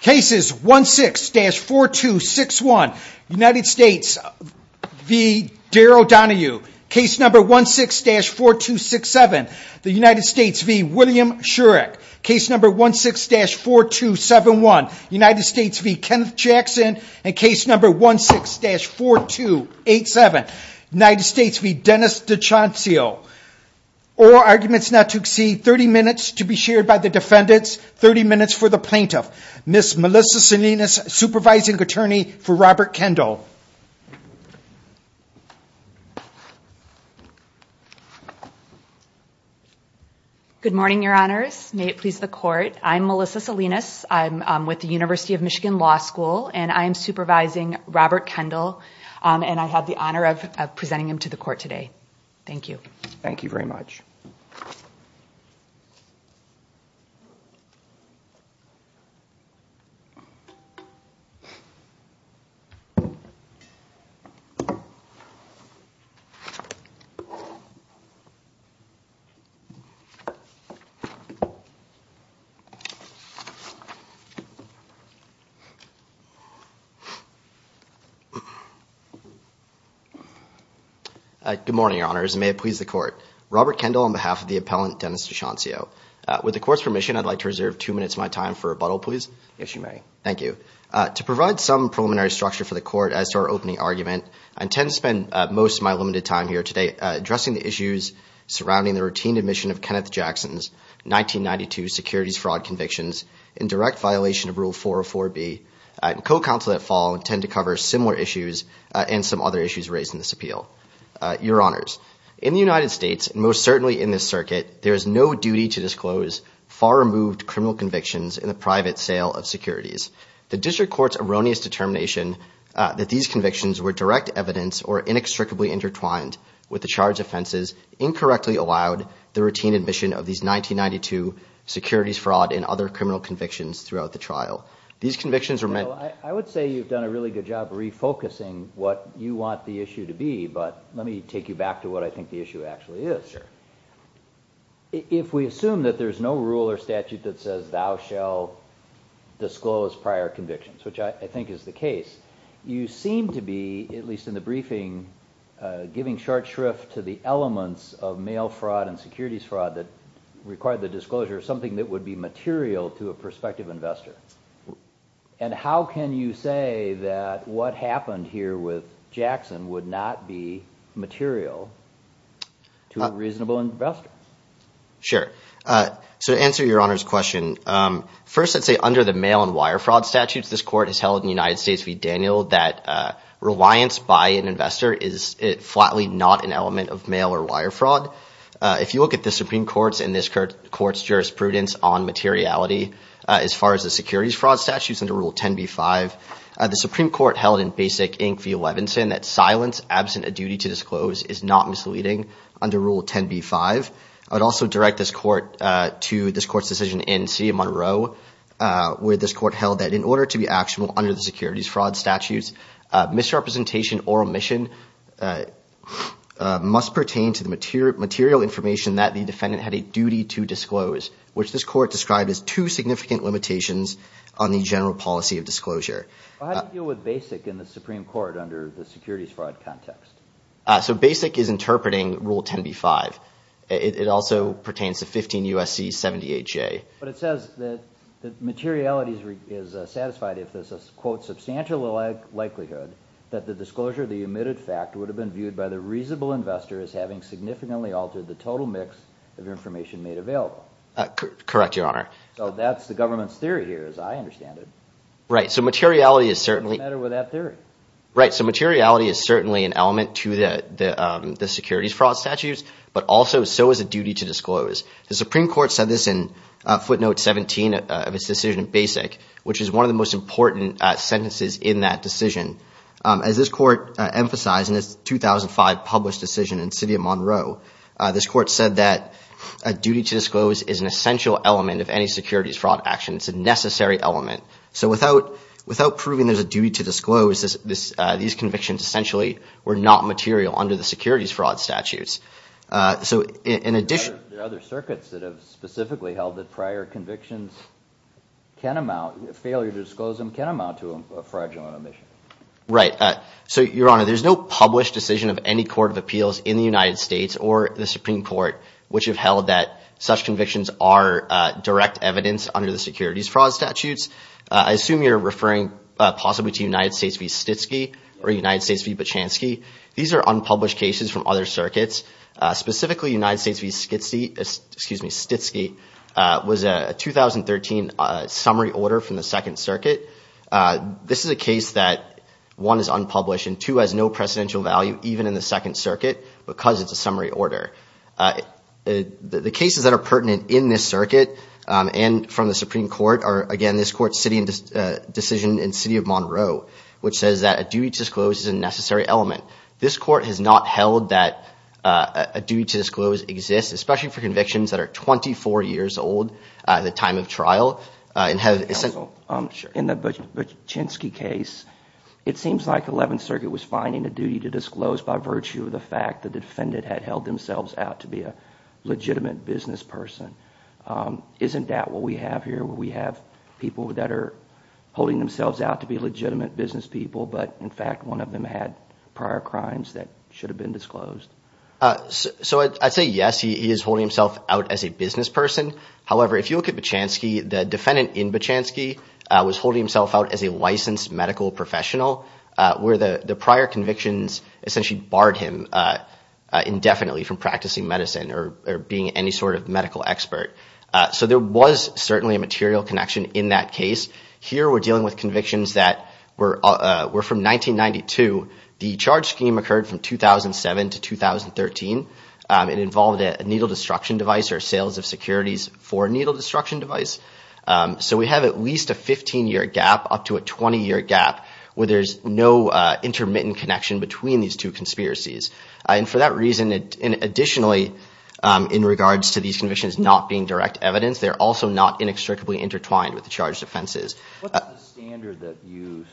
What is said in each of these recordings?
Cases 1-6-4261 United States v. Daryl Donohue Case number 1-6-4267 United States v. William Shurek Case number 1-6-4271 United States v. Kenneth Jackson Case number 1-6-4287 United States v. Dennis DiCiancio All arguments not to exceed 30 minutes to be shared by the defendants, 30 minutes for the plaintiff. Ms. Melissa Salinas, Supervising Attorney for Robert Kendall. Good morning, Your Honors. May it please the Court, I'm Melissa Salinas. I'm with the University of Michigan Law School and I'm supervising Robert Kendall and I have the honor of presenting him to the Court today. Thank you. Thank you very much. Good morning, Your Honors. May it please the Court. Robert Kendall on behalf of the appellant, Dennis DiCiancio. With the Court's permission, I'd like to reserve two minutes of my time for rebuttal, please, if you may. Thank you. To provide some preliminary structure for the Court as to our opening argument, I intend to spend most of my limited time here today addressing the issues surrounding the routine admission of Kenneth Jackson's 1992 securities fraud convictions in direct violation of Rule 404B. Co-counsel that fall tend to cover similar issues and some other issues raised in this appeal. Your Honors, in the United States, most certainly in this circuit, there is no duty to disclose far-removed criminal convictions in a private sale of securities. The District Court's erroneous determination that these convictions were direct evidence or inextricably intertwined with the charged offenses incorrectly allowed the routine admission of these 1992 securities fraud and other criminal convictions throughout the trial. These convictions are meant... I would say you've done a really good job refocusing what you want the issue to be, but let me take you back to what I think the issue actually is here. If we assume that there's no rule or statute that says, thou shall disclose prior convictions, which I think is the case, you seem to be, at least in the briefing, giving short shrift to the elements of mail fraud and securities fraud that require the disclosure of something that would be material to a prospective investor. And how can you say that what happened here with Jackson would not be material to a reasonable investor? Sure. To answer your Honor's question, first I'd say under the mail and wire fraud statutes this Court has held in the United States v. Daniel that reliance by an investor is flatly not an element of mail or wire fraud. If you look at the Supreme Court's and this Court's jurisprudence on materiality, as far as the securities fraud statutes under Rule 10b-5, the Supreme Court held in Basic Inc. v. Levinson that silence absent a duty to disclose is not misleading under Rule 10b-5. I'd also direct this Court to this Court's decision in CA Monroe, where this Court held that in order to be actionable under the securities fraud statutes, misrepresentation or omission must pertain to the material information that the defendant had a duty to disclose, which this Court described as two significant limitations on the general policy of disclosure. How do you deal with Basic in the Supreme Court under the securities fraud context? Basic is interpreting Rule 10b-5. It also pertains to 15 U.S.C. 78J. But it says that materiality is satisfied if there's a quote substantial likelihood that the disclosure of the omitted fact would have been viewed by the reasonable investor as having significantly altered the total mix of information made available. Correct, Your Honor. So that's the government's theory here, as I understand it. Right, so materiality is certainly an element to the securities fraud statutes, but also so is a duty to disclose. The Supreme Court said this in footnote 17 of its decision in Basic, which is one of the most important sentences in that decision. As this Court emphasized in its 2005 published decision in CA Monroe, this Court said that a duty to disclose is an essential element of any securities fraud action. It's a necessary element. So without proving there's a duty to disclose, these convictions essentially were not material under the securities fraud statutes. There are other circuits that have specifically held that prior convictions, failure to disclose them can amount to a fragile omission. Right. So, Your Honor, there's no published decision of any court of appeals in the United States or the Supreme Court which have held that such convictions are direct evidence under the securities fraud statutes. I assume you're referring possibly to United States v. Stitsky or United States v. Bachansky. These are unpublished cases from other circuits. Specifically, United States v. Stitsky was a 2013 summary order from the Second Circuit. This is a case that, one, is unpublished, and two, has no precedential value even in the Second Circuit because it's a summary order. The cases that are pertinent in this circuit and from the Supreme Court are, again, this Court's decision in CA Monroe, which says that a duty to disclose is a necessary element. This Court has not held that a duty to disclose exists, especially for convictions that are 24 years old at the time of trial. In the Bachansky case, it seems like the Eleventh Circuit was finding a duty to disclose by virtue of the fact the defendant had held themselves out to be a legitimate business person. Isn't that what we have here, where we have people that are holding themselves out to be legitimate business people, but, in fact, one of them had prior crimes that should have been disclosed? I'd say yes, he is holding himself out as a business person. However, if you look at Bachansky, the defendant in Bachansky was holding himself out as a licensed medical professional, where the prior convictions essentially barred him indefinitely from practicing medicine or being any sort of medical expert. So there was certainly a material connection in that case. Here we're dealing with convictions that were from 1992. The charge scheme occurred from 2007 to 2013. It involved a needle destruction device or sales of securities for a needle destruction device. So we have at least a 15-year gap up to a 20-year gap where there's no intermittent connection between these two conspiracies. And for that reason, additionally, in regards to these convictions not being direct evidence, they're also not inextricably intertwined with the charged offenses. What's the standard that you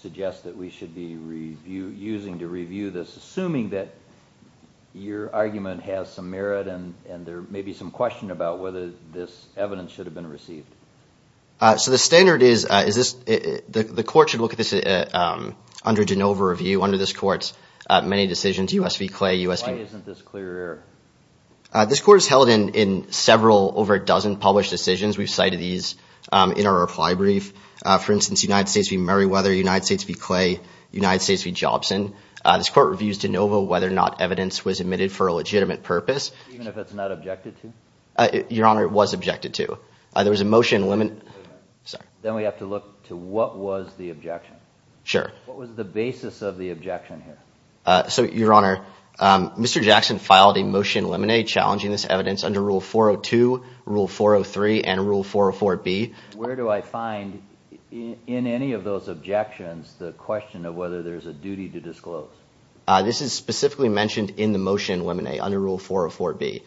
suggest that we should be using to review this, assuming that your argument has some merit and there may be some question about whether this evidence should have been received? So the standard is the court should look at this under de novo review under this court's many decisions. Why isn't this clear? This court has held in several over a dozen published decisions. We've cited these in our reply brief. For instance, United States v. Murrayweather, United States v. Clay, United States v. Jobson. This court reviews de novo whether or not evidence was admitted for a legitimate purpose. Even if it's not objected to? Your Honor, it was objected to. Then we have to look to what was the objection. Sure. What was the basis of the objection here? Your Honor, Mr. Jackson filed a motion limine challenging this evidence under Rule 402, Rule 403, and Rule 404B. Where do I find in any of those objections the question of whether there's a duty to disclose? This is specifically mentioned in the motion limine under Rule 404B.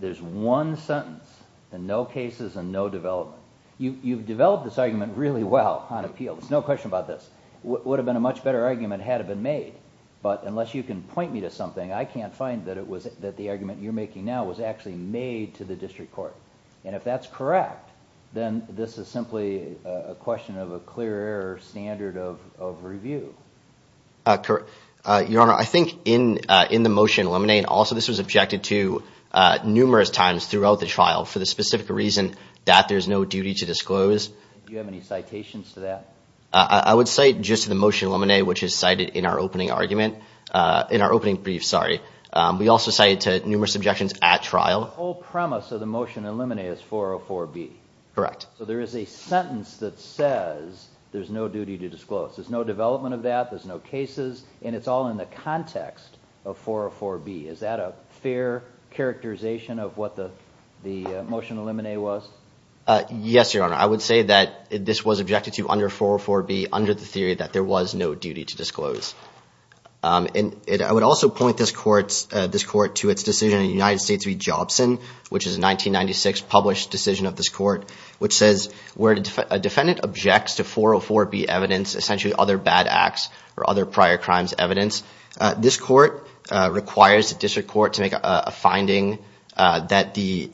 There's one sentence, and no cases and no developments. You've developed this argument really well on appeal. There's no question about this. It would have been a much better argument had it been made, but unless you can point me to something, I can't find that the argument you're making now was actually made to the district court. If that's correct, then this is simply a question of a clear error standard of review. Your Honor, I think in the motion limine, also this was objected to numerous times throughout the trial for the specific reason that there's no duty to disclose. Do you have any citations to that? I would cite just the motion limine, which is cited in our opening brief. We also cite numerous objections at trial. The whole premise of the motion limine is 404B. Correct. So there is a sentence that says there's no duty to disclose. There's no development of that, there's no cases, and it's all in the context of 404B. Is that a fair characterization of what the motion limine was? Yes, Your Honor. I would say that this was objected to under 404B under the theory that there was no duty to disclose. I would also point this court to its decision in the United States v. Jobson, which is a 1996 published decision of this court, which says where a defendant objects to 404B evidence, essentially other bad acts or other prior crimes evidence, this court requires the district court to make a finding that the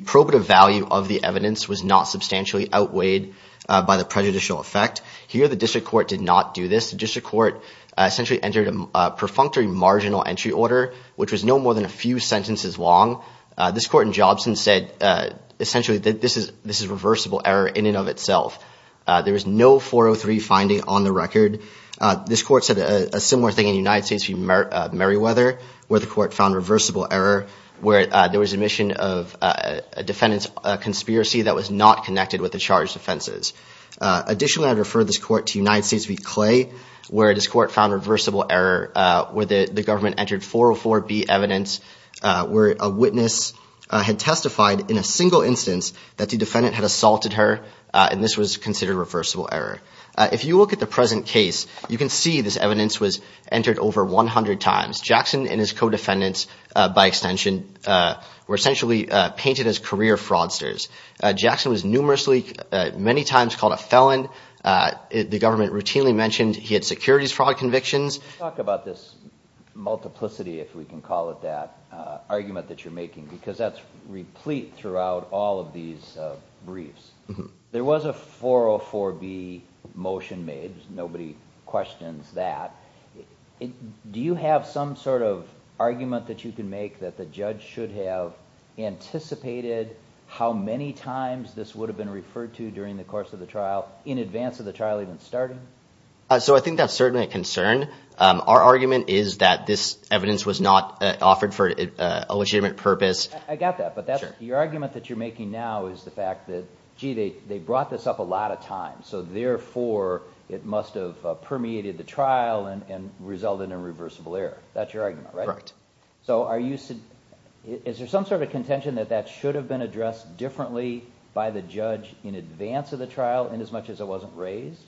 probative value of the evidence was not substantially outweighed by the prejudicial effect. Here the district court did not do this. The district court essentially entered a perfunctory marginal entry order, which was no more than a few sentences long. This court in Jobson said essentially that this is reversible error in and of itself. There is no 403 finding on the record. This court said a similar thing in the United States v. Meriwether, where the court found reversible error, where there was admission of a defendant's conspiracy that was not connected with the charged offenses. Additionally, I refer this court to United States v. Clay, where this court found reversible error, where the government entered 404B evidence, where a witness had testified in a single instance that the defendant had assaulted her, and this was considered reversible error. If you look at the present case, you can see this evidence was entered over 100 times. Jackson and his co-defendants, by extension, were essentially painted as career fraudsters. Jackson was numerously, many times, called a felon. The government routinely mentioned he had securities fraud convictions. Let's talk about this multiplicity, if we can call it that, argument that you're making, because that's replete throughout all of these briefs. There was a 404B motion made. Nobody questions that. Do you have some sort of argument that you can make that the judge should have anticipated how many times this would have been referred to during the course of the trial, in advance of the trial even starting? I think that's certainly a concern. Our argument is that this evidence was not offered for a legitimate purpose. I got that, but your argument that you're making now is the fact that, gee, they brought this up a lot of times, so therefore it must have permeated the trial and resulted in reversible error. That's your argument, right? Correct. Is there some sort of contention that that should have been addressed differently by the judge in advance of the trial, inasmuch as it wasn't raised?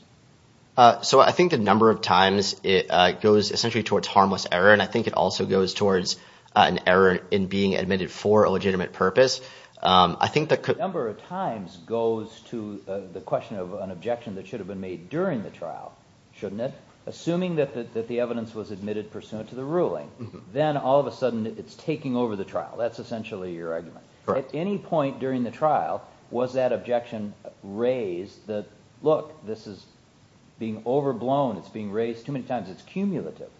I think the number of times it goes essentially towards harmless error, and I think it also goes towards an error in being admitted for a legitimate purpose. The number of times goes to the question of an objection that should have been made during the trial, shouldn't it? Assuming that the evidence was admitted pursuant to the ruling, then all of a sudden it's taking over the trial. That's essentially your argument. Correct. At any point during the trial, was that objection raised that, look, this is being overblown, it's being raised too many times, it's cumulative?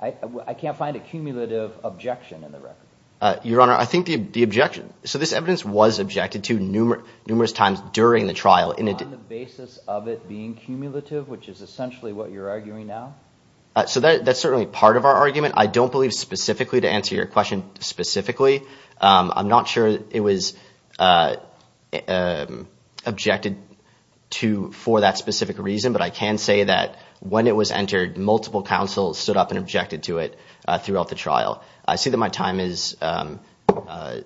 I can't find a cumulative objection in the record. Your Honor, I think the objection, so this evidence was objected to numerous times during the trial. On the basis of it being cumulative, which is essentially what you're arguing now? That's certainly part of our argument. I don't believe specifically, to answer your question specifically, I'm not sure it was objected to for that specific reason, but I can say that when it was entered, multiple counsels stood up and objected to it throughout the trial. I see that my time is, I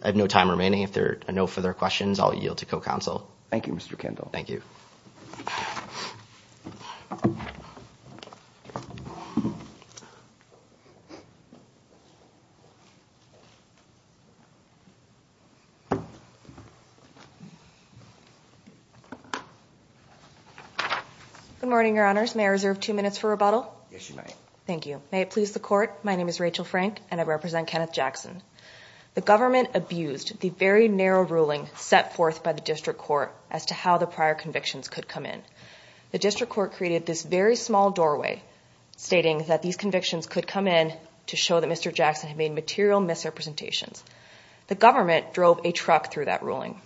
have no time remaining. If there are no further questions, I'll yield to co-counsel. Thank you, Mr. Kendall. Thank you. Good morning, Your Honors. May I reserve two minutes for rebuttal? Yes, you may. Thank you. May it please the Court, my name is Rachel Frank and I represent Kenneth Jackson. The government abused the very narrow ruling set forth by the district court as to how the prior convictions could come in. The district court created this very small doorway stating that these convictions could come in to show that Mr. Jackson had made material misrepresentations. The government drove a truck through that ruling.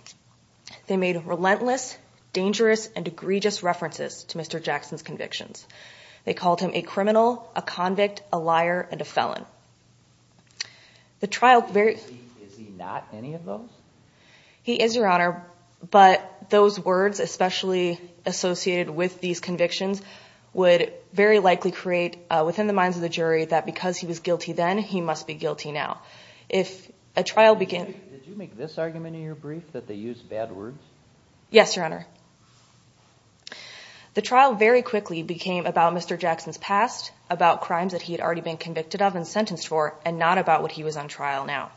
They made relentless, dangerous, and egregious references to Mr. Jackson's convictions. They called him a criminal, a convict, a liar, and a felon. Is he not any of those? He is, Your Honor, but those words, especially associated with these convictions, would very likely create within the minds of the jury that because he was guilty then, he must be guilty now. Did you make this argument in your brief, that they used bad words? Yes, Your Honor. The trial very quickly became about Mr. Jackson's past, about crimes that he had already been convicted of and sentenced for, and not about what he was on trial now.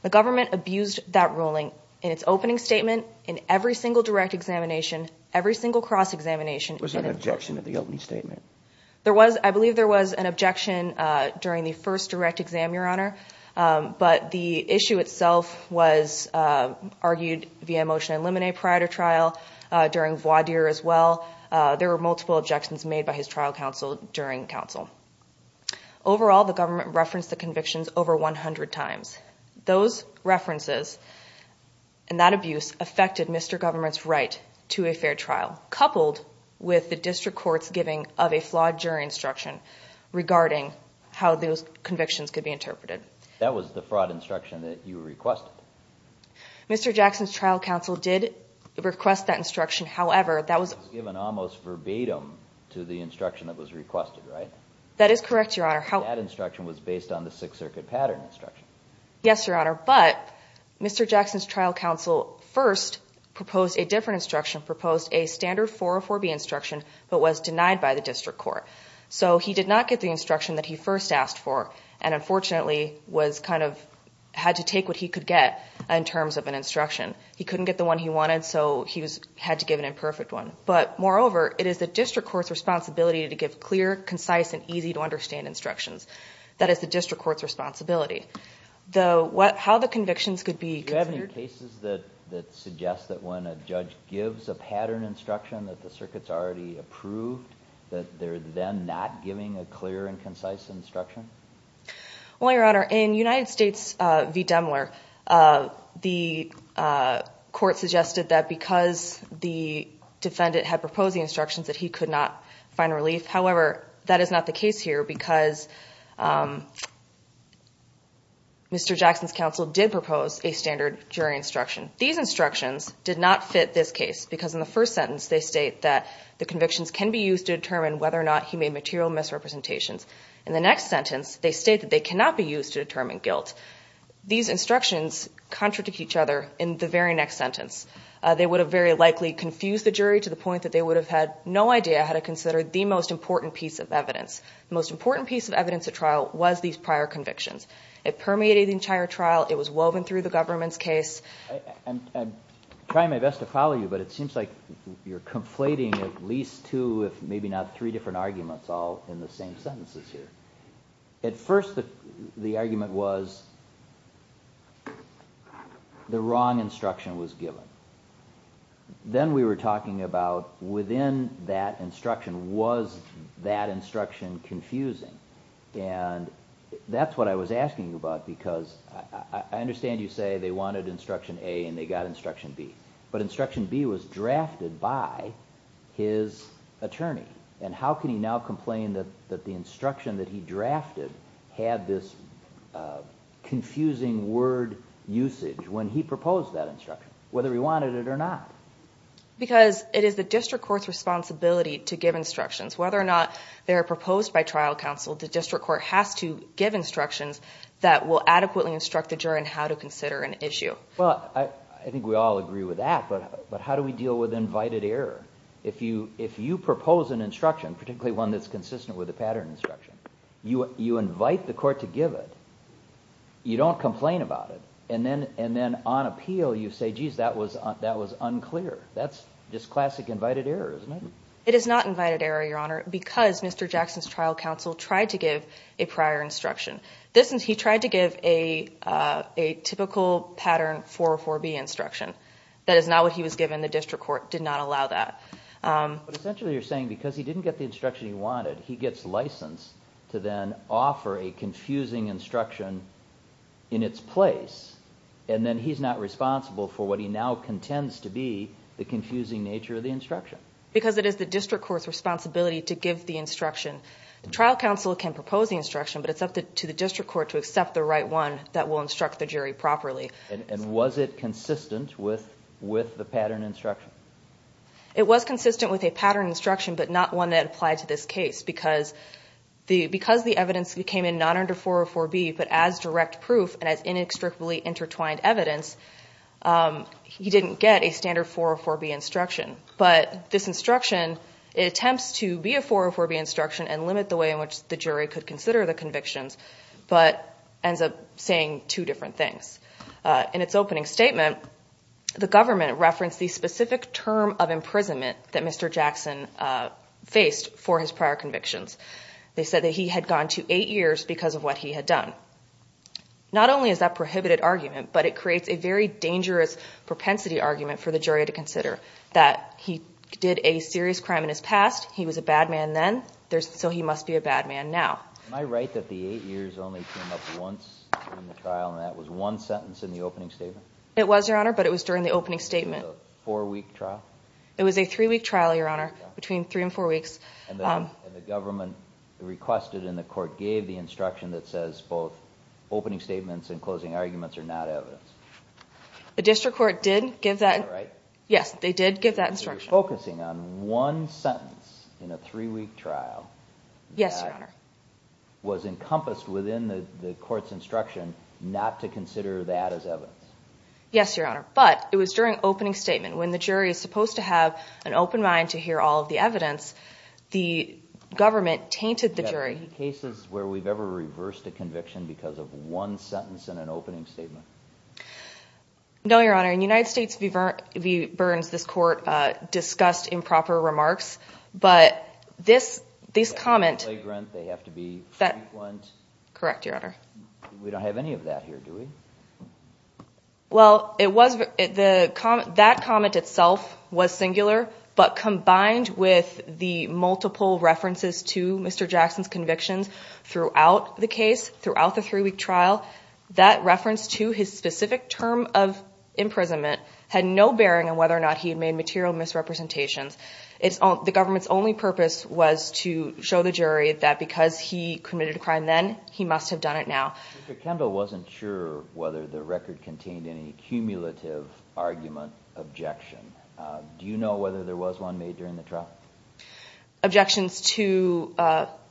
The government abused that ruling in its opening statement, in every single direct examination, every single cross-examination. Was there an objection to the opening statement? I believe there was an objection during the first direct exam, Your Honor, but the issue itself was argued via motion and limine prior to trial, during voir dire as well. There were multiple objections made by his trial counsel during counsel. Overall, the government referenced the convictions over 100 times. Those references and that abuse affected Mr. Government's right to a fair trial, coupled with the district court's giving of a flawed jury instruction regarding how those convictions could be interpreted. That was the fraud instruction that you requested. Mr. Jackson's trial counsel did request that instruction. However, that was... Given almost verbatim to the instruction that was requested, right? That is correct, Your Honor. That instruction was based on the Sixth Circuit pattern instruction. Yes, Your Honor, but Mr. Jackson's trial counsel first proposed a different instruction, proposed a standard 404B instruction, but was denied by the district court. So he did not get the instruction that he first asked for, and unfortunately had to take what he could get in terms of an instruction. He couldn't get the one he wanted, so he had to give an imperfect one. But moreover, it is the district court's responsibility to give clear, concise, and easy-to-understand instructions. That is the district court's responsibility. How the convictions could be... Do you have any cases that suggest that when a judge gives a pattern instruction that the circuit's already approved, that they're then not giving a clear and concise instruction? Well, Your Honor, in United States v. Demler, the court suggested that because the defendant had proposed the instructions that he could not find relief. However, that is not the case here because Mr. Jackson's counsel did propose a standard jury instruction. These instructions did not fit this case because in the first sentence, they state that the convictions can be used to determine whether or not he made material misrepresentations. In the next sentence, they state that they cannot be used to determine guilt. These instructions contradict each other in the very next sentence. They would have very likely confused the jury to the point that they would have had no idea how to consider the most important piece of evidence. The most important piece of evidence at trial was these prior convictions. It permeated the entire trial. It was woven through the government's case. I'm trying my best to follow you, but it seems like you're conflating at least two, if maybe not three, different arguments all in the same sentence this year. At first, the argument was the wrong instruction was given. Then we were talking about within that instruction, was that instruction confusing? That's what I was asking you about because I understand you say they wanted instruction A and they got instruction B. But instruction B was drafted by his attorney. How could he now complain that the instruction that he drafted had this confusing word usage when he proposed that instruction, whether he wanted it or not? Because it is the district court's responsibility to give instructions. Whether or not they're proposed by trial counsel, the district court has to give instructions that will adequately instruct the jury on how to consider an issue. I think we all agree with that, but how do we deal with invited error? If you propose an instruction, particularly one that's consistent with the pattern instruction, you invite the court to give it, you don't complain about it, and then on appeal you say, geez, that was unclear. That's just classic invited error, isn't it? It is not invited error, Your Honor, because Mr. Jackson's trial counsel tried to give a prior instruction. He tried to give a typical pattern 404B instruction. That is not what he was given. The district court did not allow that. But essentially you're saying because he didn't get the instruction he wanted, he gets license to then offer a confusing instruction in its place, and then he's not responsible for what he now contends to be the confusing nature of the instruction. Because it is the district court's responsibility to give the instruction. Trial counsel can propose the instruction, but it's up to the district court to accept the right one that will instruct the jury properly. And was it consistent with the pattern instruction? It was consistent with a pattern instruction, but not one that applied to this case, because the evidence came in not under 404B, but as direct proof and as inextricably intertwined evidence, he didn't get a standard 404B instruction. But this instruction, it attempts to be a 404B instruction and limit the way in which the jury could consider the conviction, but ends up saying two different things. In its opening statement, the government referenced the specific term of imprisonment that Mr. Jackson faced for his prior convictions. They said that he had gone to eight years because of what he had done. Not only is that a prohibited argument, but it creates a very dangerous propensity argument for the jury to consider, that he did a serious crime in his past, he was a bad man then, so he must be a bad man now. Am I right that the eight years only came up once in the trial and that was one sentence in the opening statement? It was, Your Honor, but it was during the opening statement. Was it a four-week trial? It was a three-week trial, Your Honor, between three and four weeks. And the government requested and the court gave the instruction that says both opening statements and closing arguments are not evidence. The district court did give that. Am I right? Yes, they did give that instruction. So you're focusing on one sentence in a three-week trial. Yes, Your Honor. That was encompassed within the court's instruction not to consider that as evidence. Yes, Your Honor, but it was during opening statement. When the jury is supposed to have an open mind to hear all of the evidence, the government tainted the jury. Have there been cases where we've ever reversed a conviction because of one sentence in an opening statement? No, Your Honor. Your Honor, in United States v. Burns, this court discussed improper remarks, but this comment- They have to be vagrant. They have to be sequenced. Correct, Your Honor. We don't have any of that here, do we? Well, that comment itself was singular, but combined with the multiple references to Mr. Jackson's convictions throughout the case, while that reference to his specific term of imprisonment had no bearing on whether or not he had made material misrepresentation, the government's only purpose was to show the jury that because he committed a crime then, he must have done it now. Mr. Kendall wasn't sure whether the record contained any cumulative argument, objection. Do you know whether there was one made during the trial? Objections to-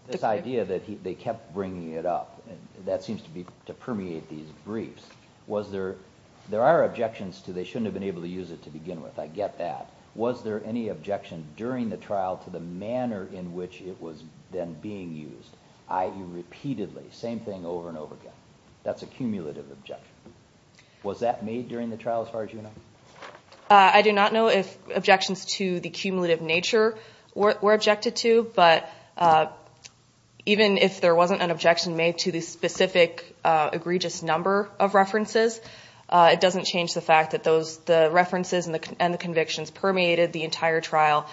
This idea that they kept bringing it up, that seems to permeate these briefs. There are objections to they shouldn't have been able to use it to begin with. I get that. Was there any objection during the trial to the manner in which it was then being used, i.e., repeatedly, same thing over and over again? That's a cumulative objection. Was that made during the trial as far as you know? I do not know if objections to the cumulative nature were objected to, but even if there wasn't an objection made to the specific egregious number of references, it doesn't change the fact that the references and the convictions permeated the entire trial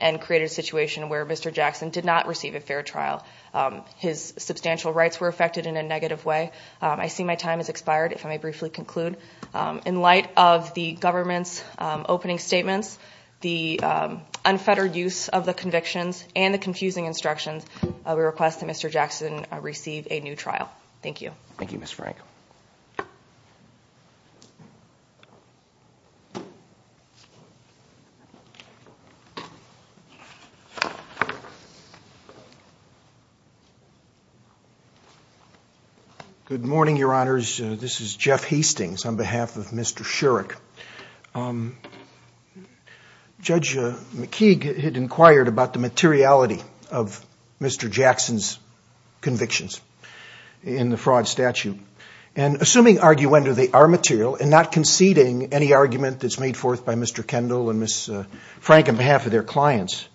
and created a situation where Mr. Jackson did not receive a fair trial. His substantial rights were affected in a negative way. I see my time has expired, if I may briefly conclude. In light of the government's opening statement, the unfettered use of the convictions, and the confusing instructions, we request that Mr. Jackson receive a new trial. Thank you. Thank you, Ms. Frank. Good morning, Your Honors. This is Jeff Hastings on behalf of Mr. Shurick. Judge McKeague had inquired about the materiality of Mr. Jackson's convictions in the fraud statute. Assuming arguendo they are material and not conceding any argument that's made forth by Mr. Kendall and Ms. Frank on behalf of their clients,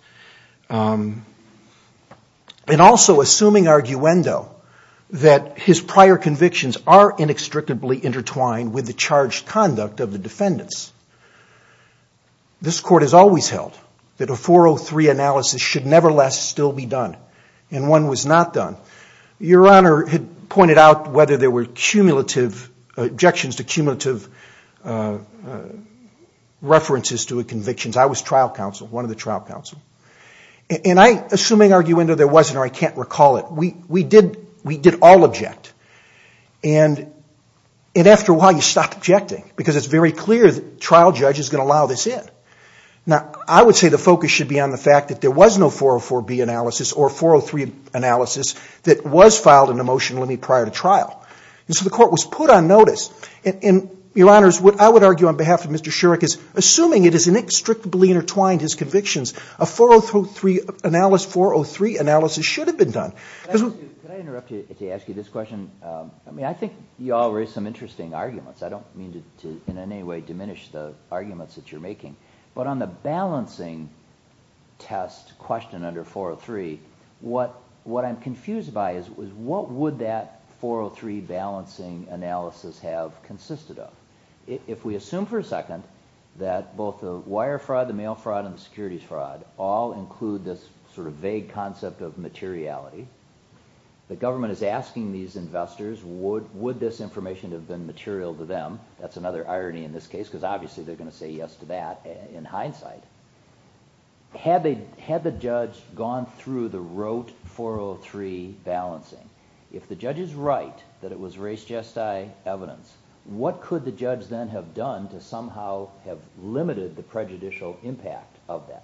and also assuming arguendo that his prior convictions are inextricably intertwined with the charged conduct of the defendants, this Court has always held that a 403 analysis should nevertheless still be done, and one was not done. Your Honor had pointed out whether there were objections to cumulative references to a conviction. I was trial counsel, one of the trial counsel, and assuming arguendo there wasn't or I can't recall it, we did all object. And after a while, you stop objecting because it's very clear that the trial judge is going to allow this in. Now, I would say the focus should be on the fact that there was no 404B analysis or 403 analysis that was filed in the motion limit prior to trial. And so the Court was put on notice, and Your Honor, I would argue on behalf of Mr. Shurick, is assuming it is inextricably intertwined, his convictions, a 403 analysis should have been done. Can I interrupt you to ask you this question? I think you all raised some interesting arguments. I don't mean to in any way diminish the arguments that you're making, but on the balancing test question under 403, what I'm confused by is what would that 403 balancing analysis have consisted of? If we assume for a second that both the wire fraud, the mail fraud, and the securities fraud all include this sort of vague concept of materiality, the government is asking these investors would this information have been material to them? That's another irony in this case because obviously they're going to say yes to that in hindsight. Had the judge gone through the rote 403 balancing, if the judge is right that it was res gestae evidence, what could the judge then have done to somehow have limited the prejudicial impact of that?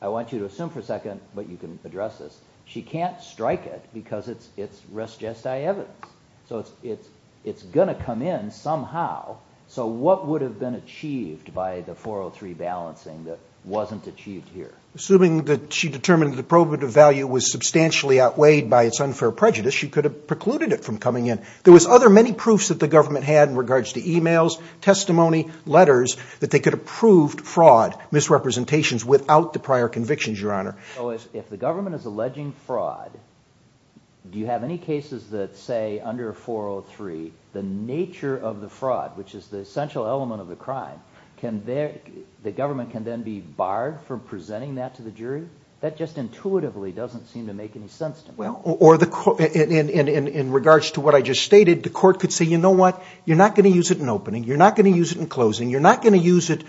I want you to assume for a second, but you can address this, she can't strike it because it's res gestae evidence. It's going to come in somehow, so what would have been achieved by the 403 balancing that wasn't achieved here? Assuming that she determined the probative value was substantially outweighed by its unfair prejudice, she could have precluded it from coming in. There was other many proofs that the government had in regards to emails, testimony, letters, that they could have proved fraud, misrepresentations, without the prior convictions, Your Honor. If the government is alleging fraud, do you have any cases that say under 403 the nature of the fraud, which is the essential element of the crime, the government can then be barred from presenting that to the jury? That just intuitively doesn't seem to make any sense to me. In regards to what I just stated, the court could say, you know what, you're not going to use it in opening, you're not going to use it in closing, you're not going to use it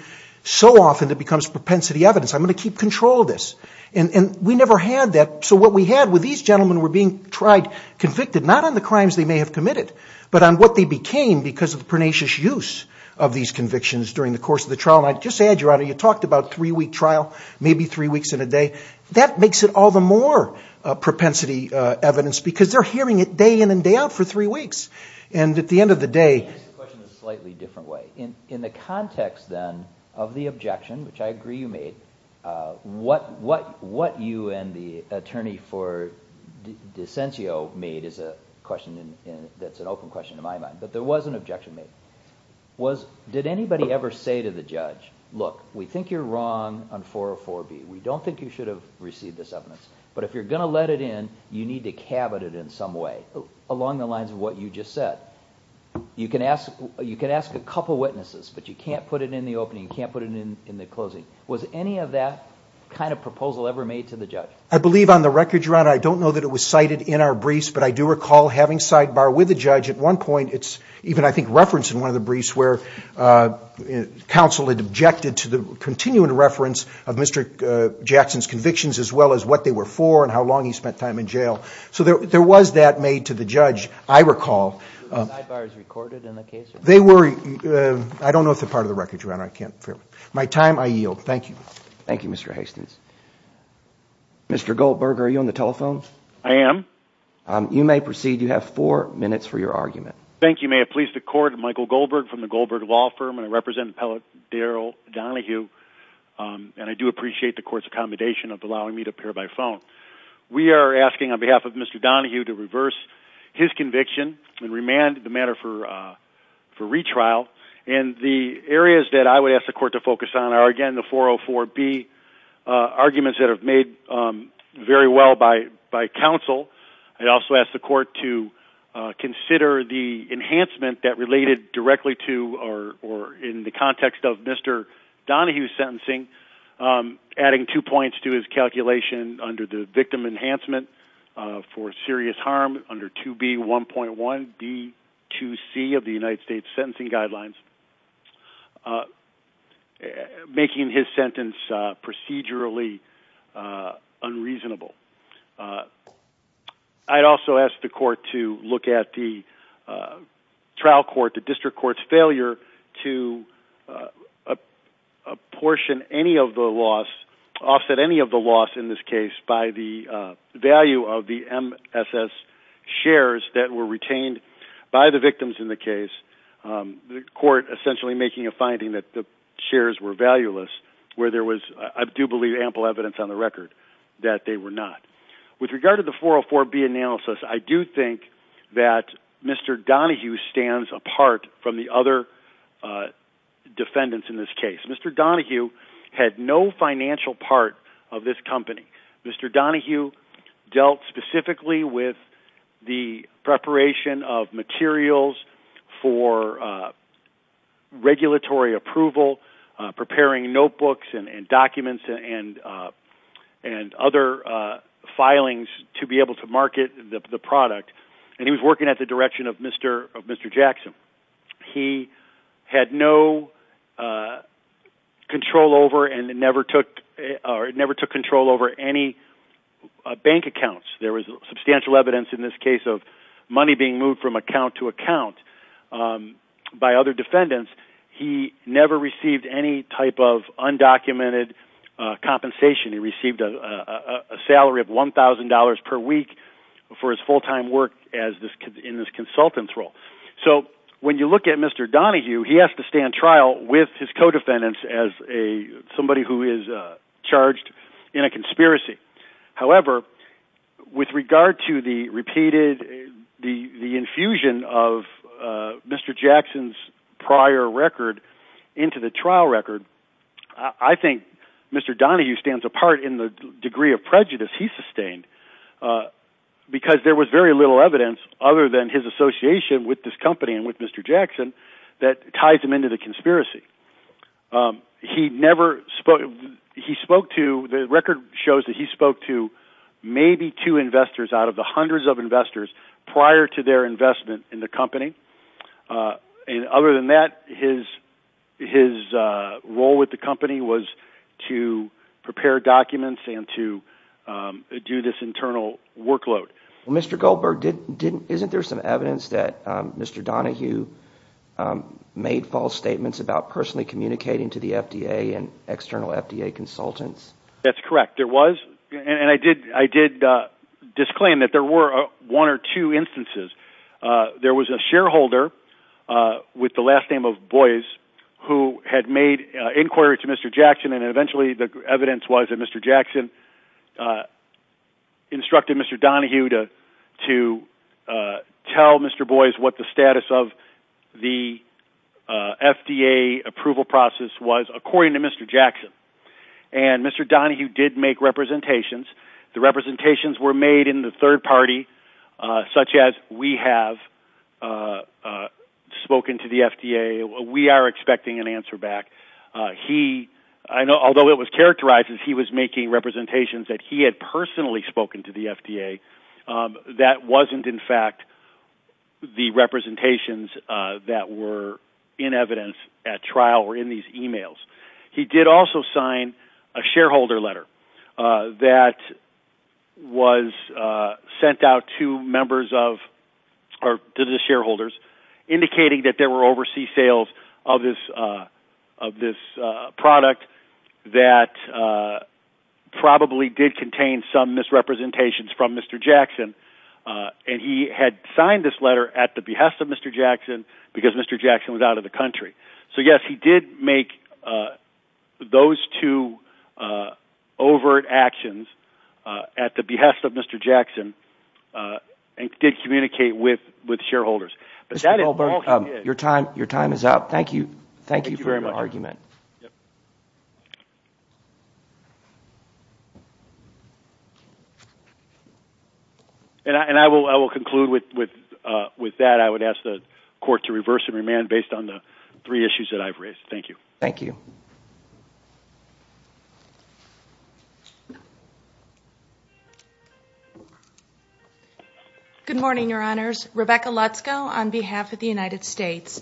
so often that it becomes propensity evidence. I'm going to keep control of this, and we never had that. So what we had were these gentlemen were being tried, convicted, not on the crimes they may have committed, but on what they became because of the pernicious use of these convictions during the course of the trial. I'd just add, Your Honor, you talked about a three-week trial, maybe three weeks in a day. That makes it all the more propensity evidence because they're hearing it day in and day out for three weeks, and at the end of the day… Let me ask you a question in a slightly different way. In the context, then, of the objection, which I agree you made, what you and the attorney for Dicentio made is a question that's an open question in my mind, but there was an objection made. Did anybody ever say to the judge, look, we think you're wrong on 404B. We don't think you should have received this evidence, but if you're going to let it in, you need to cab it in some way along the lines of what you just said. You can ask a couple witnesses, but you can't put it in the opening. You can't put it in the closing. Was any of that kind of proposal ever made to the judge? I believe on the record, Your Honor, I don't know that it was cited in our briefs, but I do recall having sidebar with the judge at one point. It's even, I think, referenced in one of the briefs where counsel had objected to the continuing reference of Mr. Jackson's convictions as well as what they were for and how long he spent time in jail. So there was that made to the judge, I recall. Were the sidebars recorded in the case? They were. I don't know if it's a part of the record, Your Honor. My time, I yield. Thank you. Thank you, Mr. Hastings. Mr. Goldberg, are you on the telephone? I am. You may proceed. You have four minutes for your argument. Thank you. May it please the Court. Michael Goldberg from the Goldberg Law Firm. I represent Appellate Daryl Donahue, and I do appreciate the Court's accommodation of allowing me to appear by phone. We are asking on behalf of Mr. Donahue to reverse his conviction and remand the matter for retrial. And the areas that I would ask the Court to focus on are, again, the 404B arguments that are made very well by counsel. I'd also ask the Court to consider the enhancement that related directly to or in the context of Mr. Donahue's sentencing, adding two points to his calculation under the victim enhancement for serious harm under 2B1.1B2C of the United States Sentencing Guidelines, making his sentence procedurally unreasonable. I'd also ask the Court to look at the trial court, the district court's failure to apportion any of the loss, offset any of the loss in this case, by the value of the MSS shares that were retained by the victims in the case. The Court essentially making a finding that the shares were valueless, where there was, I do believe, ample evidence on the record that they were not. With regard to the 404B analysis, I do think that Mr. Donahue stands apart from the other defendants in this case. Mr. Donahue had no financial part of this company. Mr. Donahue dealt specifically with the preparation of materials for regulatory approval, preparing notebooks and documents and other filings to be able to market the product, and he was working at the direction of Mr. Jackson. He had no control over and never took control over any bank accounts. There was substantial evidence in this case of money being moved from account to account by other defendants. He never received any type of undocumented compensation. He received a salary of $1,000 per week for his full-time work in this consultant role. So when you look at Mr. Donahue, he has to stand trial with his co-defendants as somebody who is charged in a conspiracy. However, with regard to the repeated infusion of Mr. Jackson's prior record into the trial record, I think Mr. Donahue stands apart in the degree of prejudice he sustained because there was very little evidence, other than his association with this company and with Mr. Jackson, that ties him into the conspiracy. The record shows that he spoke to maybe two investors out of the hundreds of investors prior to their investment in the company. Other than that, his role with the company was to prepare documents and to do this internal workload. Mr. Goldberg, isn't there some evidence that Mr. Donahue made false statements about personally communicating to the FDA and external FDA consultants? That's correct. There was, and I did disclaim that there were one or two instances. There was a shareholder with the last name of Boyce who had made inquiries to Mr. Jackson, and eventually the evidence was that Mr. Jackson instructed Mr. Donahue to tell Mr. Boyce what the status of the FDA approval process was, according to Mr. Jackson. And Mr. Donahue did make representations. The representations were made in the third party, such as, we have spoken to the FDA, we are expecting an answer back. Although it was characterized as he was making representations that he had personally spoken to the FDA, that wasn't in fact the representations that were in evidence at trial or in these emails. He did also sign a shareholder letter that was sent out to the shareholders indicating that there were overseas sales of this product that probably did contain some misrepresentations from Mr. Jackson, and he had signed this letter at the behest of Mr. Jackson because Mr. Jackson was out of the country. So yes, he did make those two overt actions at the behest of Mr. Jackson and did communicate with shareholders. Mr. Goldberg, your time is up. Thank you for your argument. Thank you very much. And I will conclude with that. I would ask the court to reverse and remand based on the three issues that I've raised. Thank you. Thank you. Good morning, Your Honors. Rebecca Lutzko on behalf of the United States.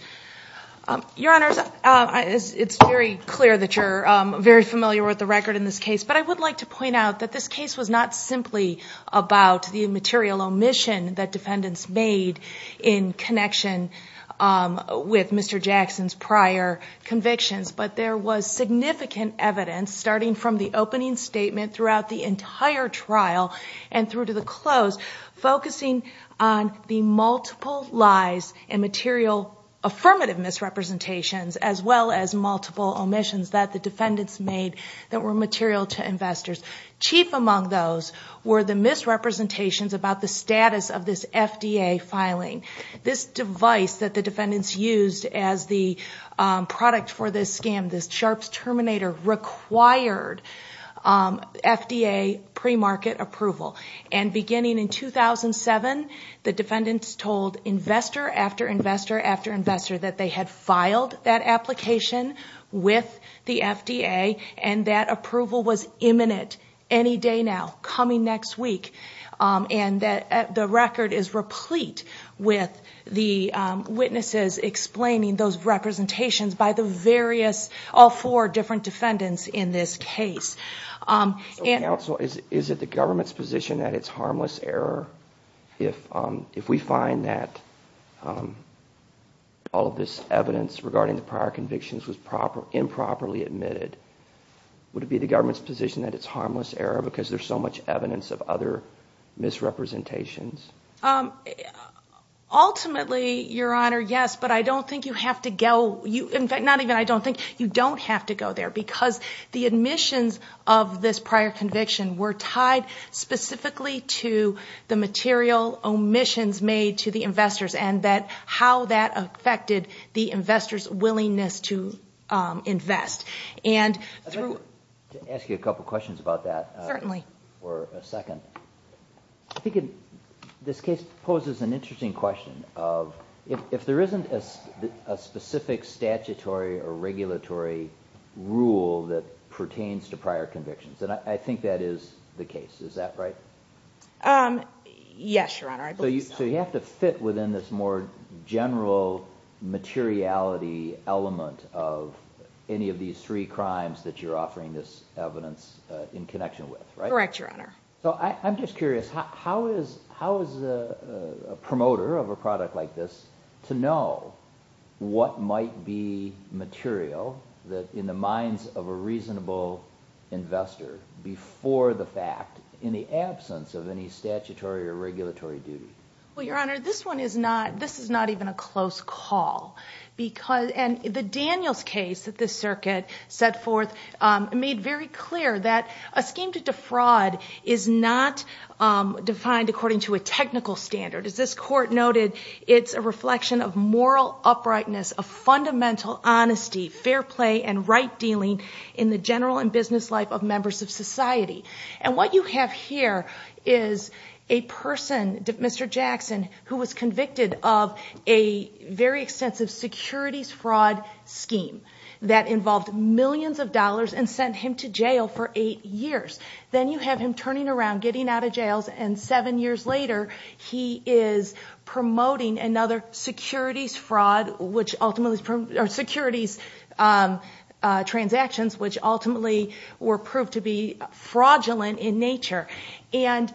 Your Honors, it's very clear that you're very familiar with the record in this case, but I would like to point out that this case was not simply about the material omission that defendants made in connection with Mr. Jackson's prior convictions, but there was significant evidence starting from the opening statement throughout the entire trial and through to the close focusing on the multiple lies and material affirmative misrepresentations as well as multiple omissions that the defendants made that were material to investors. Chief among those were the misrepresentations about the status of this FDA filing, this device that the defendants used as the product for this scam, the Sharps Terminator required FDA pre-market approval. And beginning in 2007, the defendants told investor after investor after investor that they had filed that application with the FDA and that approval was imminent any day now, coming next week. And that the record is replete with the witnesses explaining those representations by the various, all four different defendants in this case. Counsel, is it the government's position that it's harmless error if we find that all of this evidence regarding the prior convictions was improperly admitted? Would it be the government's position that it's harmless error because there's so much evidence of other misrepresentations? Ultimately, Your Honor, yes, but I don't think you have to go, not even I don't think, you don't have to go there because the admissions of this prior conviction were tied specifically to the material omissions made to the investors and how that affected the investors' willingness to invest. I'd like to ask you a couple questions about that. Certainly. For a second. I think this case poses an interesting question of if there isn't a specific statutory or regulatory rule that pertains to prior convictions, then I think that is the case. Is that right? Yes, Your Honor. So you have to fit within this more general materiality element of any of these three crimes that you're offering this evidence in connection with, right? Correct, Your Honor. So I'm just curious, how is a promoter of a product like this to know what might be material that, in the minds of a reasonable investor, before the fact, in the absence of any statutory or regulatory duty? Well, Your Honor, this is not even a close call. The Daniels case that this circuit set forth made very clear that a scheme to defraud is not defined according to a technical standard. As this court noted, it's a reflection of moral uprightness, of fundamental honesty, fair play, and right dealing in the general and business life of members of society. And what you have here is a person, Mr. Jackson, who was convicted of a very extensive securities fraud scheme that involved millions of dollars and sent him to jail for eight years. Then you have him turning around, getting out of jail, and seven years later he is promoting another securities fraud, or securities transactions, which ultimately were proved to be fraudulent in nature. And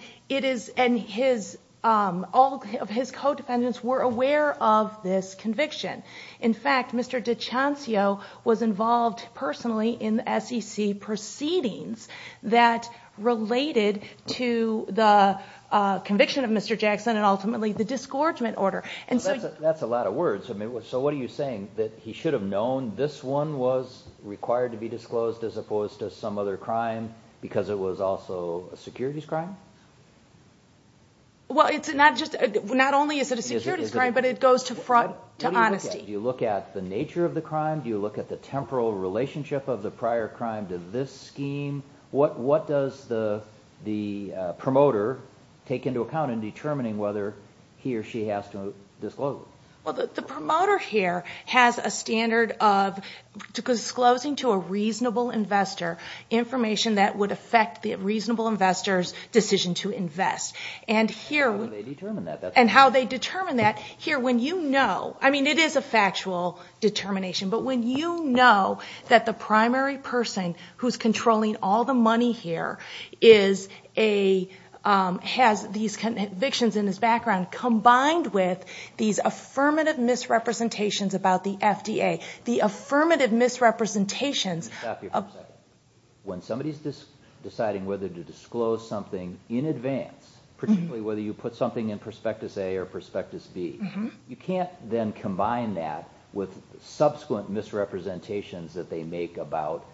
all of his co-defendants were aware of this conviction. In fact, Mr. DiCiancio was involved personally in SEC proceedings that related to the conviction of Mr. Jackson and ultimately the disgorgement order. That's a lot of words. So what are you saying, that he should have known this one was required to be disclosed as opposed to some other crime because it was also a securities crime? Well, not only is it a securities crime, but it goes to honesty. Do you look at the nature of the crime? Do you look at the temporal relationship of the prior crime to this scheme? What does the promoter take into account in determining whether he or she has to disclose it? Well, the promoter here has a standard of disclosing to a reasonable investor information that would affect the reasonable investor's decision to invest. And how they determine that? Here, when you know, I mean it is a factual determination, but when you know that the primary person who is controlling all the money here has these convictions in his background combined with these affirmative misrepresentations about the FDA. When somebody is deciding whether to disclose something in advance, particularly whether you put something in Prospectus A or Prospectus B, you can't then combine that with subsequent misrepresentations that they make about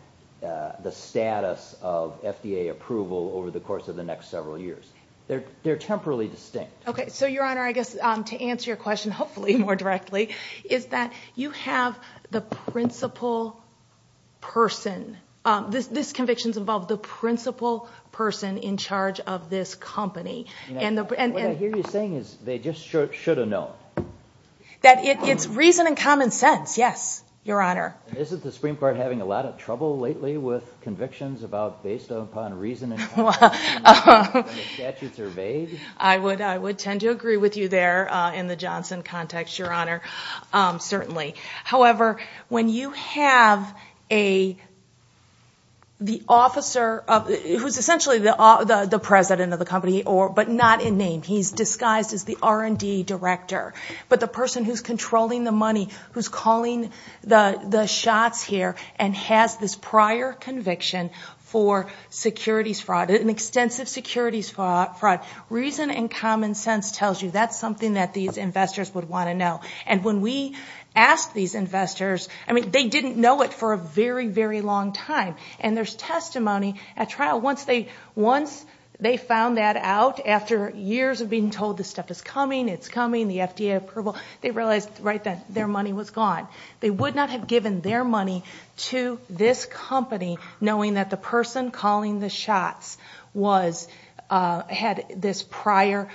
the status of FDA approval over the course of the next several years. They are temporally distinct. So, Your Honor, I guess to answer your question, hopefully more directly, is that you have the principal person. These convictions involve the principal person in charge of this company. And what I hear you saying is they just should have known. That it is reason and common sense, yes, Your Honor. Isn't the Supreme Court having a lot of trouble lately with convictions based upon reason and common sense? I would tend to agree with you there in the Johnson context, Your Honor. Certainly. However, when you have the officer who is essentially the president of the company, but not in name. He is disguised as the R&D director. But the person who is controlling the money, who is calling the shots here, and has this prior conviction for securities fraud, an extensive securities fraud, reason and common sense tells you that is something that these investors would want to know. And when we ask these investors, I mean, they didn't know it for a very, very long time. And there is testimony at trial. Once they found that out, after years of being told this stuff is coming, it's coming, the FDA approval, they realized right then their money was gone. They would not have given their money to this company knowing that the person calling the shots had this prior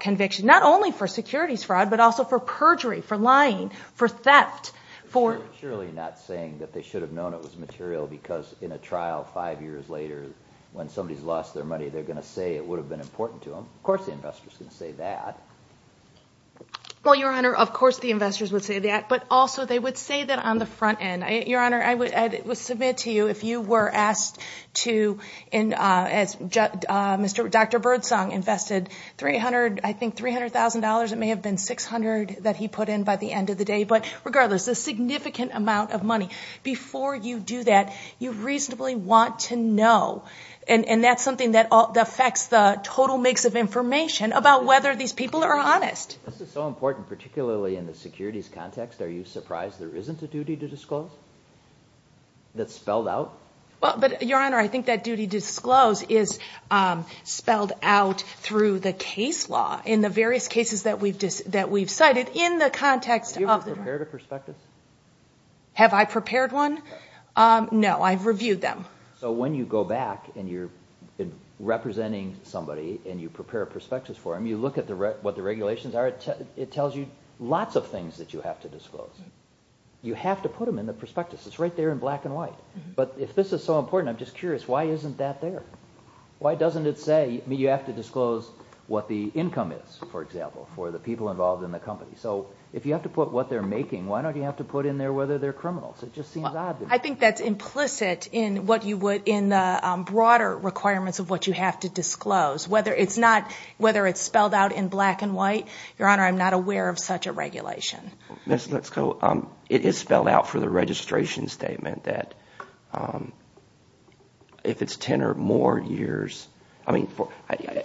conviction, not only for securities fraud, but also for perjury, for lying, for theft. They're surely not saying that they should have known it was material because in a trial five years later, when somebody has lost their money, they're going to say it would have been important to them. Of course the investors would say that. Well, Your Honor, of course the investors would say that. But also they would say that on the front end. Your Honor, I would submit to you if you were asked to, as Dr. Birdsong invested, I think $300,000, it may have been $600,000 that he put in by the end of the day. But regardless, a significant amount of money. Before you do that, you reasonably want to know. And that's something that affects the total mix of information about whether these people are honest. This is so important, particularly in the securities context. Are you surprised there isn't a duty to disclose that's spelled out? But, Your Honor, I think that duty to disclose is spelled out through the case law in the various cases that we've cited in the context of- Have you ever prepared a prospectus? Have I prepared one? No, I've reviewed them. So when you go back and you're representing somebody and you prepare a prospectus for them, and you look at what the regulations are, it tells you lots of things that you have to disclose. You have to put them in the prospectus. It's right there in black and white. But if this is so important, I'm just curious, why isn't that there? Why doesn't it say you have to disclose what the income is, for example, for the people involved in the company? So if you have to put what they're making, why don't you have to put in there whether they're criminals? It just seems obvious. I think that's implicit in the broader requirements of what you have to disclose. Whether it's spelled out in black and white, Your Honor, I'm not aware of such a regulation. It is spelled out for the registration statement that if it's 10 or more years-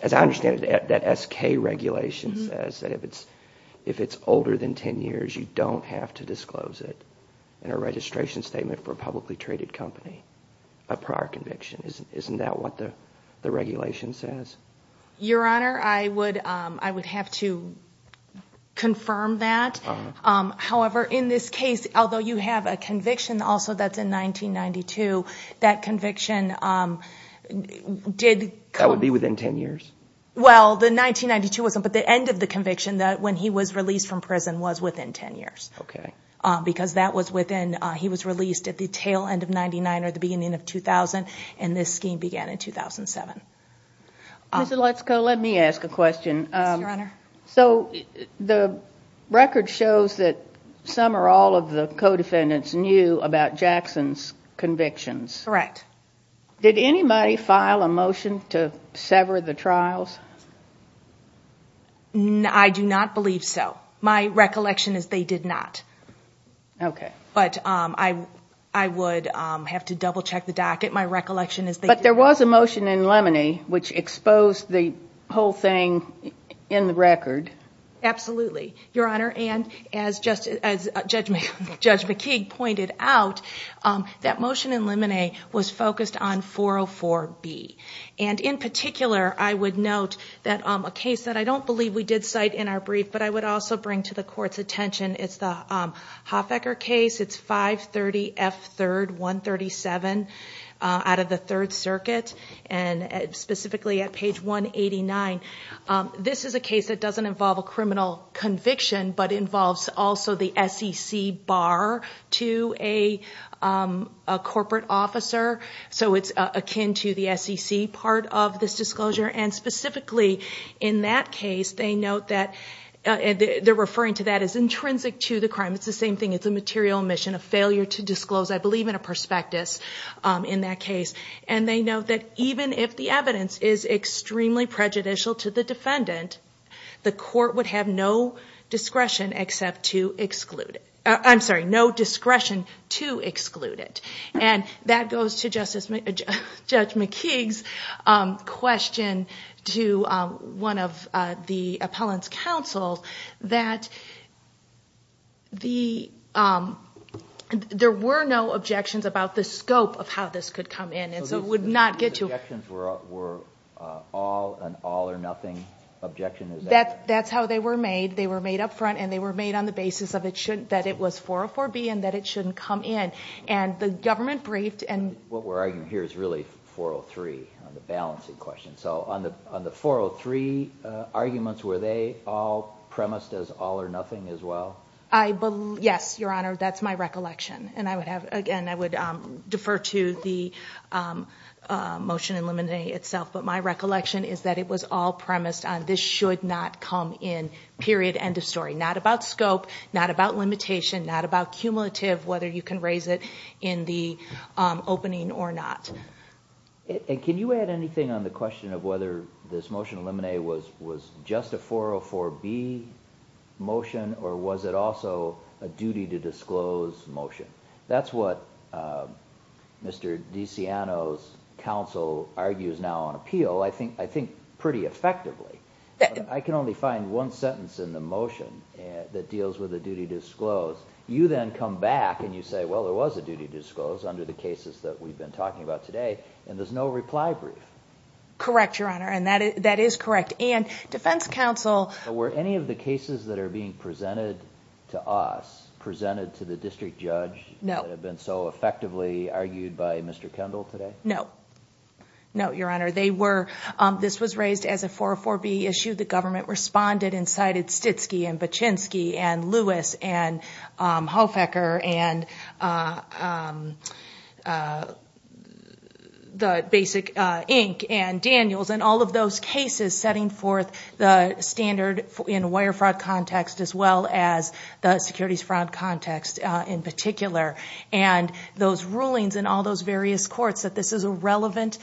As I understand it, that SK regulation says that if it's older than 10 years, you don't have to disclose it in a registration statement for a publicly traded company, a prior conviction. Isn't that what the regulation says? Your Honor, I would have to confirm that. However, in this case, although you have a conviction also that's in 1992, that conviction did- That would be within 10 years? Well, the 1992, but the end of the conviction when he was released from prison was within 10 years. Because that was within- He was released at the tail end of 1999 or the beginning of 2000, and this scheme began in 2007. Ms. Lutsko, let me ask a question. Your Honor. So the record shows that some or all of the co-defendants knew about Jackson's convictions. Correct. Did anybody file a motion to sever the trials? I do not believe so. My recollection is they did not. Okay. But I would have to double-check the docket. My recollection is they did. But there was a motion in Lemony which exposed the whole thing in the record. Absolutely. Your Honor, and as Judge McKeague pointed out, that motion in Lemony was focused on 404B. And in particular, I would note a case that I don't believe we did cite in our brief, but I would also bring to the Court's attention. It's the Hoffacker case. It's 530F3-137 out of the Third Circuit, and specifically at page 189. This is a case that doesn't involve a criminal conviction, but involves also the SEC bar to a corporate officer. So it's akin to the SEC part of this disclosure. And specifically in that case, they note that they're referring to that as intrinsic to the crime. It's the same thing. It's a material omission, a failure to disclose, I believe, in a prospectus in that case. And they note that even if the evidence is extremely prejudicial to the defendant, the Court would have no discretion to exclude it. And that goes to Judge McKeague's question to one of the appellant's counsels, that there were no objections about the scope of how this could come in. So the objections were an all or nothing objection? That's how they were made. They were made up front, and they were made on the basis that it was 404B and that it shouldn't come in. What we're arguing here is really 403 on the balancing question. So on the 403 arguments, were they all premised as all or nothing as well? Yes, Your Honor. That's my recollection. And, again, I would defer to the motion eliminating itself. But my recollection is that it was all premised on this should not come in, period, end of story. Not about scope, not about limitation, not about cumulative, whether you can raise it in the opening or not. And can you add anything on the question of whether this motion eliminate was just a 404B motion, or was it also a duty-to-disclose motion? That's what Mr. DeCiano's counsel argues now on appeal, I think pretty effectively. I can only find one sentence in the motion that deals with a duty-to-disclose. You then come back and you say, well, it was a duty-to-disclose under the cases that we've been talking about today, and there's no reply brief. Correct, Your Honor, and that is correct. And defense counsel… Were any of the cases that are being presented to us presented to the district judge that have been so effectively argued by Mr. Kendall today? No. No, Your Honor. This was raised as a 404B issue. The government responded and cited Stitsky and Bachinski and Lewis and Holfacker and Basic, Inc. and Daniels, and all of those cases setting forth the standard in wire fraud context as well as the securities fraud context in particular. And those rulings in all those various courts that this is a relevant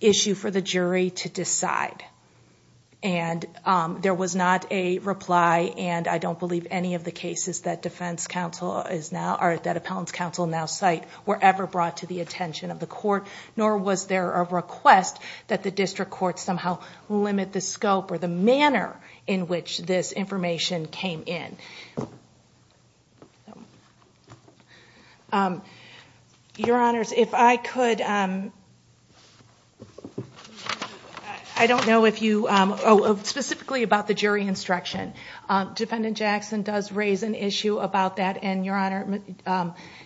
issue for the jury to decide. And there was not a reply, and I don't believe any of the cases that defense counsel is now… or that appellant's counsel now cite were ever brought to the attention of the court, nor was there a request that the district court somehow limit the scope or the manner in which this information came in. Your Honors, if I could… I don't know if you… Oh, specifically about the jury instruction. Defendant Jackson does raise an issue about that, and Your Honor,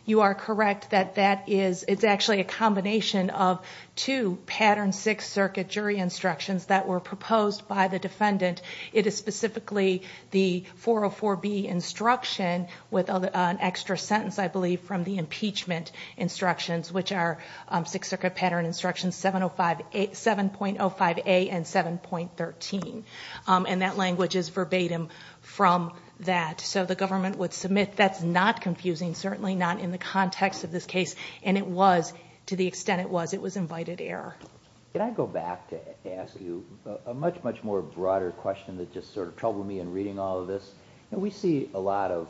you are correct that that is… it's actually a combination of two patterned Sixth Circuit jury instructions that were proposed by the defendant. It is specifically the 404B instruction with an extra sentence, I believe, from the impeachment instructions, which are Sixth Circuit pattern instructions 7.05A and 7.13. And that language is verbatim from that. So the government would submit that's not confusing, certainly not in the context of this case, and it was to the extent it was. It was invited error. Can I go back to ask you a much, much more broader question that just sort of troubled me in reading all of this? We see a lot of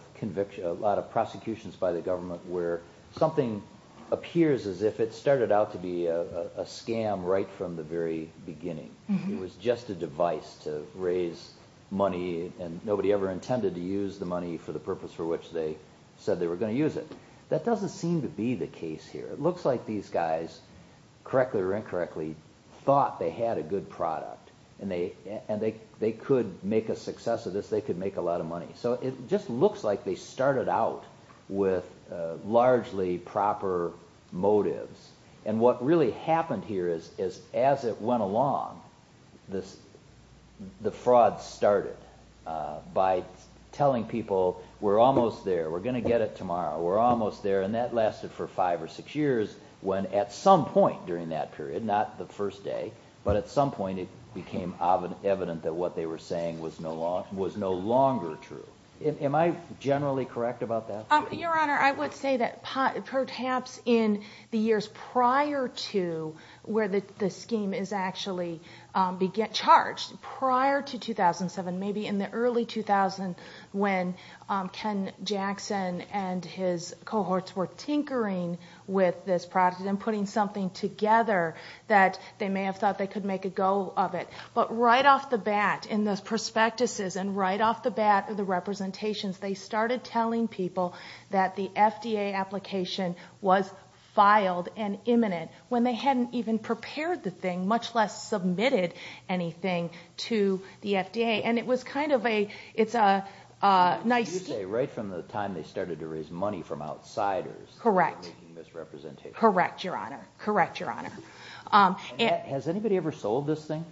prosecutions by the government where something appears as if it started out to be a scam right from the very beginning. It was just a device to raise money, and nobody ever intended to use the money for the purpose for which they said they were going to use it. That doesn't seem to be the case here. It looks like these guys, correctly or incorrectly, thought they had a good product, and they could make a success of this. They could make a lot of money. So it just looks like they started out with largely proper motives. And what really happened here is as it went along, the fraud started by telling people we're almost there, we're going to get it tomorrow, we're almost there, and that lasted for five or six years when at some point during that period, not the first day, but at some point it became evident that what they were saying was no longer true. Am I generally correct about that? Your Honor, I would say that perhaps in the years prior to where the scheme is actually charged, prior to 2007, maybe in the early 2000s when Ken Jackson and his cohorts were tinkering with this product and putting something together that they may have thought they could make a go of it. But right off the bat in the prospectuses and right off the bat in the representations, they started telling people that the FDA application was filed and imminent when they hadn't even prepared the thing, much less submitted anything to the FDA. You say right from the time they started to raise money from outsiders. Correct. Making this representation. Correct, Your Honor. Has anybody ever sold this thing?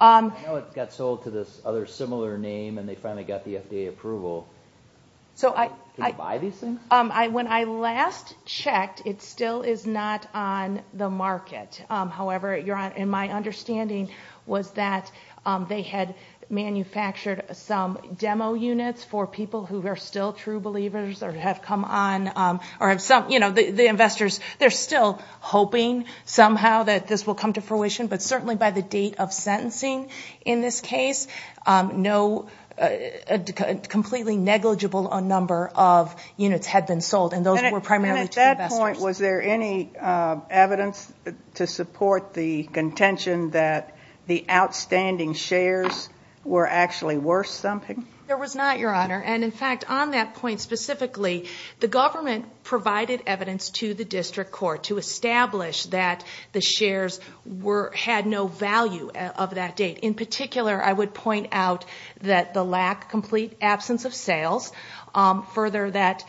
I know it got sold to this other similar name and they finally got the FDA approval. Did you buy these things? When I last checked, it still is not on the market. However, my understanding was that they had manufactured some demo units for people who are still true believers or have come on or have some, you know, the investors, they're still hoping somehow that this will come to fruition. But certainly by the date of sentencing in this case, no completely negligible number of units had been sold and those were primarily to investors. And at that point, was there any evidence to support the contention that the outstanding shares were actually worth something? There was not, Your Honor. And, in fact, on that point specifically, the government provided evidence to the district court to establish that the shares had no value of that date. In particular, I would point out that the lack, complete absence of sales, further that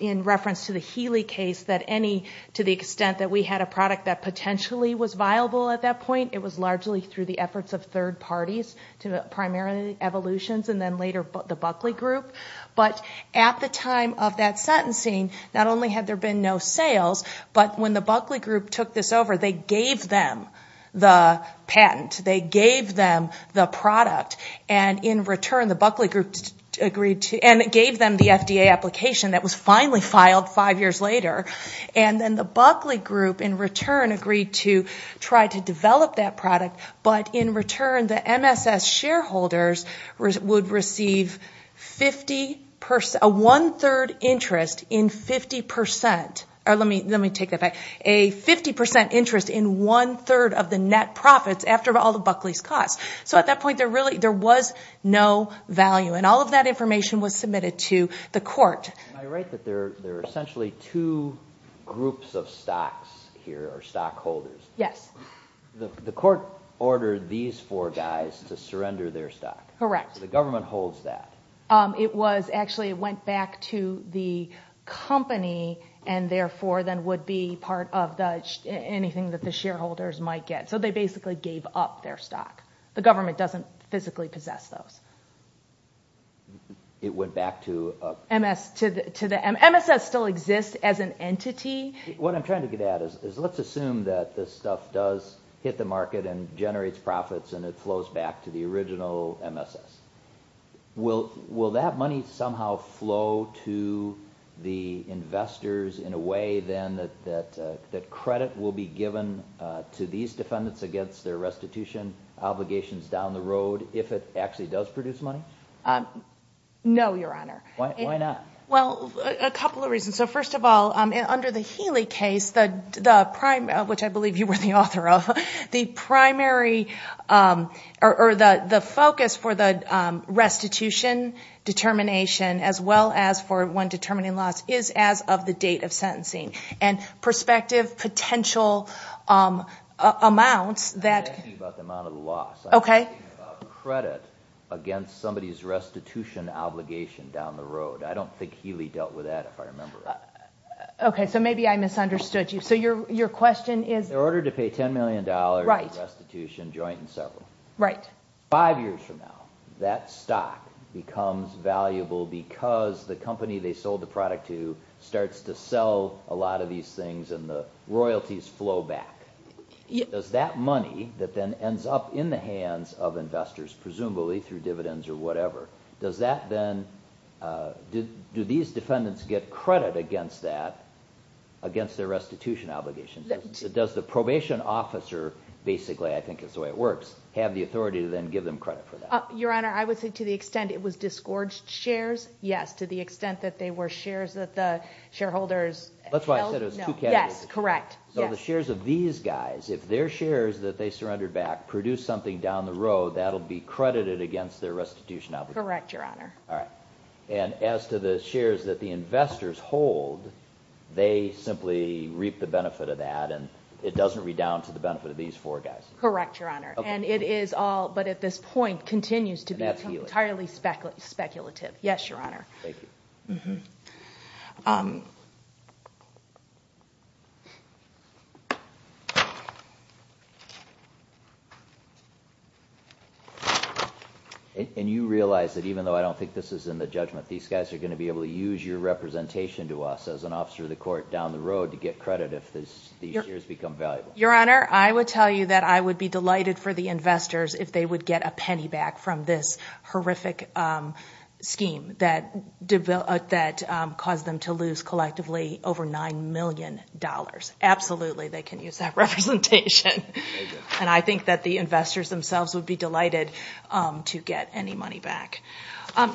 in reference to the Healy case, that any to the extent that we had a product that potentially was viable at that point, it was largely through the efforts of third parties to the primary evolutions and then later the Buckley Group. But at the time of that sentencing, not only had there been no sales, but when the Buckley Group took this over, they gave them the patent. They gave them the product and in return the Buckley Group agreed to and gave them the FDA application that was finally filed five years later. And then the Buckley Group in return agreed to try to develop that product, but in return the MSS shareholders would receive a one-third interest in 50 percent. Let me take that back. A 50 percent interest in one-third of the net profits after all the Buckley's cuts. So at that point there was no value and all of that information was submitted to the court. Am I right that there are essentially two groups of stocks here or stockholders? Yes. The court ordered these four guys to surrender their stock. Correct. The government holds that. It was actually went back to the company and therefore then would be part of anything that the shareholders might get. So they basically gave up their stock. The government doesn't physically possess those. It went back to MSS? MSS still exists as an entity. What I'm trying to get at is let's assume that this stuff does hit the market and generates profits and it flows back to the original MSS. Will that money somehow flow to the investors in a way then that credit will be given to these defendants against their restitution obligations down the road if it actually does produce money? No, Your Honor. Why not? Well, a couple of reasons. First of all, under the Healey case, which I believe you were the author of, the focus for the restitution determination as well as for one determining loss is as of the date of sentencing. And prospective potential amounts that I'm not talking about the amount of loss. Okay. I'm talking about credit against somebody's restitution obligation down the road. I don't think Healey dealt with that if I remember. Okay. So maybe I misunderstood you. So your question is? They're ordered to pay $10 million in restitution, joint and several. Right. Five years from now, that stock becomes valuable because the company they sold the product to starts to sell a lot of these things and the royalties flow back. Does that money that then ends up in the hands of investors, presumably through dividends or whatever, do these defendants get credit against that, against their restitution obligation? Does the probation officer basically, I think is the way it works, have the authority to then give them credit for that? Your Honor, I would say to the extent it was disgorged shares, yes. To the extent that they were shares that the shareholders held, no. That's why I said it was two categories. Yes, correct. So the shares of these guys, if their shares that they surrendered back produce something down the road, that will be credited against their restitution obligation. Correct, Your Honor. All right. And as to the shares that the investors hold, they simply reap the benefit of that and it doesn't redound to the benefit of these four guys. Correct, Your Honor. And it is all, but at this point, continues to be entirely speculative. Yes, Your Honor. Thank you. And you realize that even though I don't think this is in the judgment, these guys are going to be able to use your representation to us as an officer of the court down the road to get credit if these shares become valuable. Your Honor, I would tell you that I would be delighted for the investors if they would get a penny back from this horrific scheme that caused them to lose collectively over $9 million. Absolutely, they can use that representation. And I think that the investors themselves would be delighted to get any money back.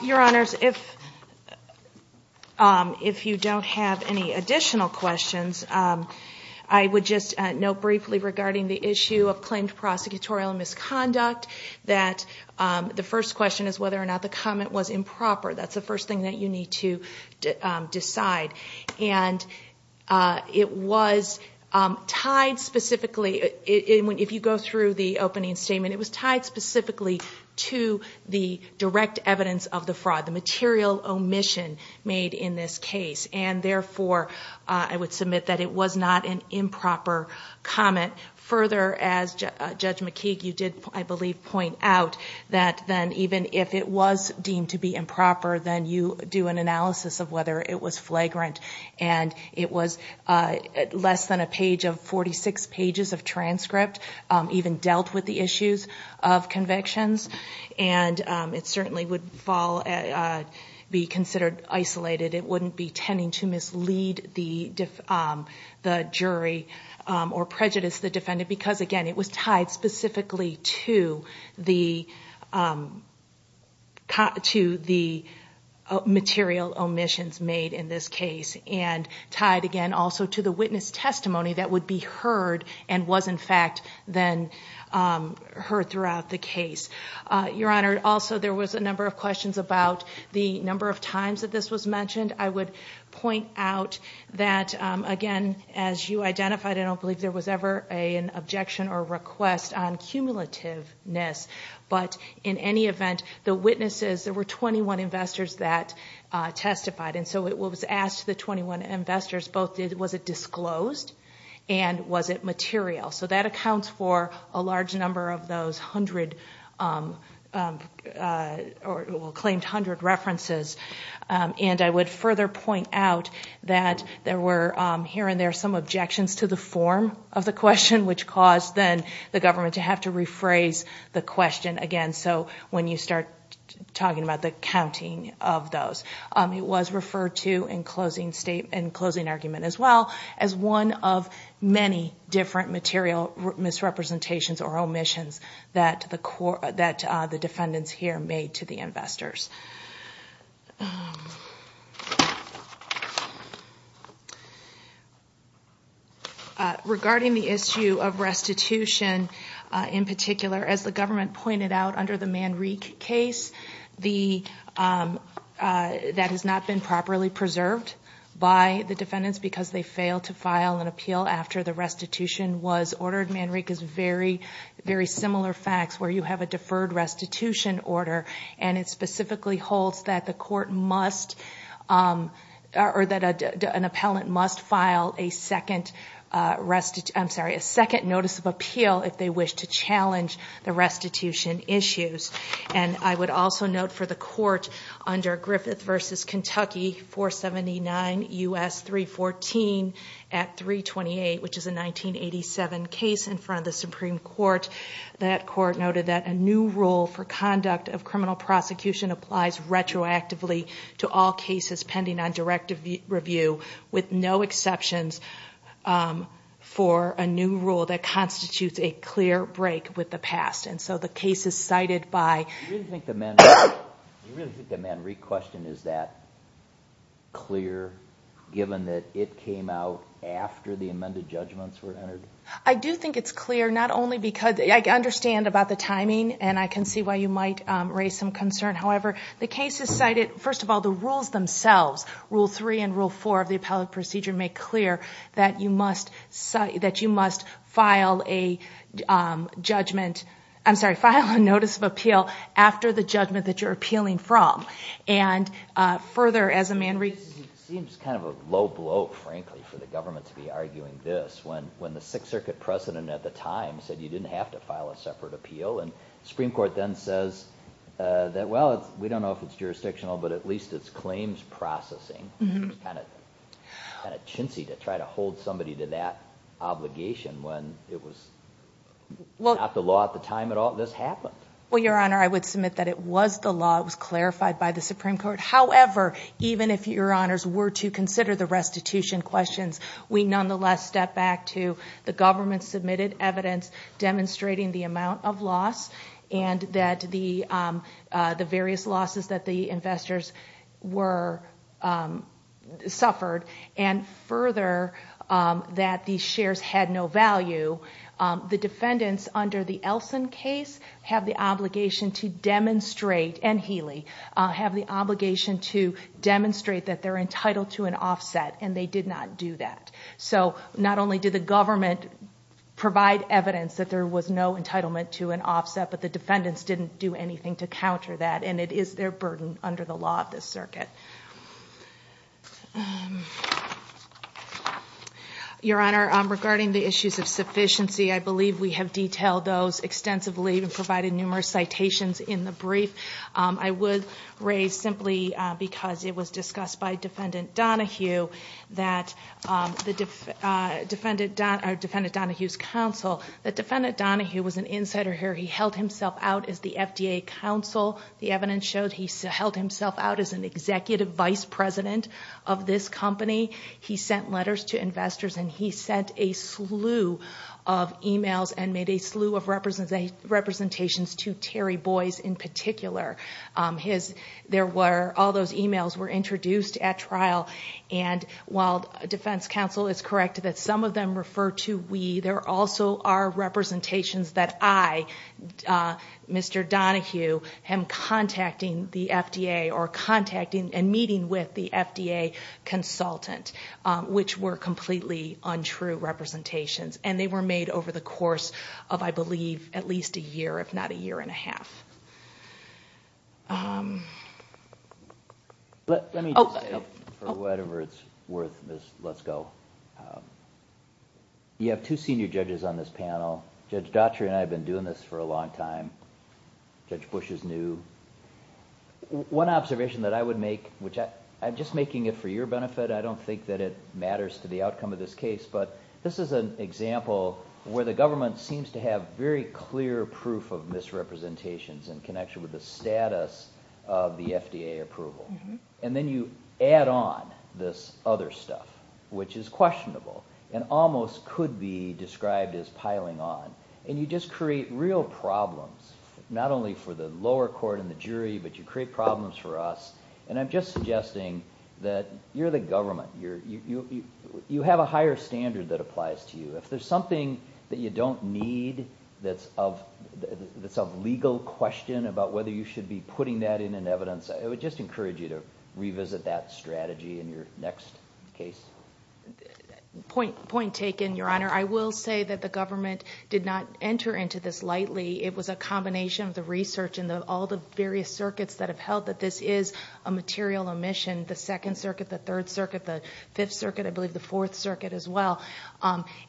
Your Honors, if you don't have any additional questions, I would just note briefly regarding the issue of claimed prosecutorial misconduct that the first question is whether or not the comment was improper. That's the first thing that you need to decide. And it was tied specifically, if you go through the opening statement, it was tied specifically to the direct evidence of the fraud, the material omission made in this case. And therefore, I would submit that it was not an improper comment. Further, as Judge McKeague, you did, I believe, point out that then even if it was deemed to be improper, then you do an analysis of whether it was flagrant and it was less than a page of 46 pages of transcript, even dealt with the issues of convictions. And it certainly would fall, be considered isolated. It wouldn't be tending to mislead the jury or prejudice the defendant because, again, it was tied specifically to the material omissions made in this case and tied, again, also to the witness testimony that would be heard and was, in fact, then heard throughout the case. Your Honor, also there was a number of questions about the number of times that this was mentioned. I would point out that, again, as you identified, I don't believe there was ever an objection or request on cumulativeness. But in any event, the witnesses, there were 21 investors that testified. And so it was asked the 21 investors both was it disclosed and was it material. So that accounts for a large number of those claimed hundred references. And I would further point out that there were here and there some objections to the form of the question, which caused then the government to have to rephrase the question again. So when you start talking about the counting of those, it was referred to in closing argument as well as one of many different material misrepresentations or omissions that the defendants here made to the investors. Regarding the issue of restitution in particular, as the government pointed out under the Manrique case, that has not been properly preserved by the defendants because they failed to file an appeal after the restitution was ordered. Manrique is very similar facts where you have a deferred restitution order and it specifically holds that the court must or that an appellant must file a second notice of appeal if they wish to challenge the restitution issues. And I would also note for the court under Griffith v. Kentucky 479 U.S. 314 at 328, which is a 1987 case in front of the Supreme Court, that court noted that a new rule for conduct of criminal prosecution applies retroactively to all cases pending on directive review with no exceptions for a new rule that constitutes a clear break with the past. And so the case is cited by… Do you really think the Manrique question is that clear given that it came out after the amended judgments were entered? I do think it's clear not only because I understand about the timing and I can see why you might raise some concern. However, the case is cited… First of all, the rules themselves, Rule 3 and Rule 4 of the appellate procedure make clear that you must file a judgment… I'm sorry, file a notice of appeal after the judgment that you're appealing from. Further, as a Manrique… It seems kind of a low blow, frankly, for the government to be arguing this when the Sixth Circuit President at the time said you didn't have to file a separate appeal and the Supreme Court then says that, well, we don't know if it's jurisdictional, but at least it's claims processing. It's kind of chintzy to try to hold somebody to that obligation when it was not the law at the time at all this happened. Well, Your Honor, I would submit that it was the law. It was clarified by the Supreme Court. However, even if Your Honors were to consider the restitution questions, we nonetheless step back to the government-submitted evidence demonstrating the amount of loss and that the various losses that the investors suffered and further, that the shares had no value. The defendants under the Elson case have the obligation to demonstrate, and Healey, have the obligation to demonstrate that they're entitled to an offset and they did not do that. So not only did the government provide evidence that there was no entitlement to an offset, but the defendants didn't do anything to counter that and it is their burden under the law of this circuit. Your Honor, regarding the issues of sufficiency, I believe we have detailed those extensively and provided numerous citations in the brief. I would raise, simply because it was discussed by Defendant Donohue, that Defendant Donohue's counsel, that Defendant Donohue was an insider here. He held himself out as the FDA counsel. The evidence shows he held himself out as an executive vice president of this company. and made a slew of representations to Terry Boyce in particular. All those emails were introduced at trial and while defense counsel is correct that some of them refer to we, there also are representations that I, Mr. Donohue, am contacting the FDA or contacting and meeting with the FDA consultant, which were completely untrue representations. And they were made over the course of, I believe, at least a year, if not a year and a half. Let me just say, for whatever it's worth, let's go. You have two senior judges on this panel. Judge Dottry and I have been doing this for a long time. Judge Bush is new. One observation that I would make, which I'm just making it for your benefit, I don't think that it matters to the outcome of this case, but this is an example where the government seems to have very clear proof of misrepresentations in connection with the status of the FDA approval. And then you add on this other stuff, which is questionable and almost could be described as piling on. And you just create real problems, not only for the lower court and the jury, but you create problems for us. And I'm just suggesting that you're the government. You have a higher standard that applies to you. If there's something that you don't need that's of legal question about whether you should be putting that in an evidence, I would just encourage you to revisit that strategy in your next case. Point taken, Your Honor. I will say that the government did not enter into this lightly. It was a combination of the research and all the various circuits that have held that this is a material omission. The second circuit, the third circuit, the fifth circuit, I believe the fourth circuit as well,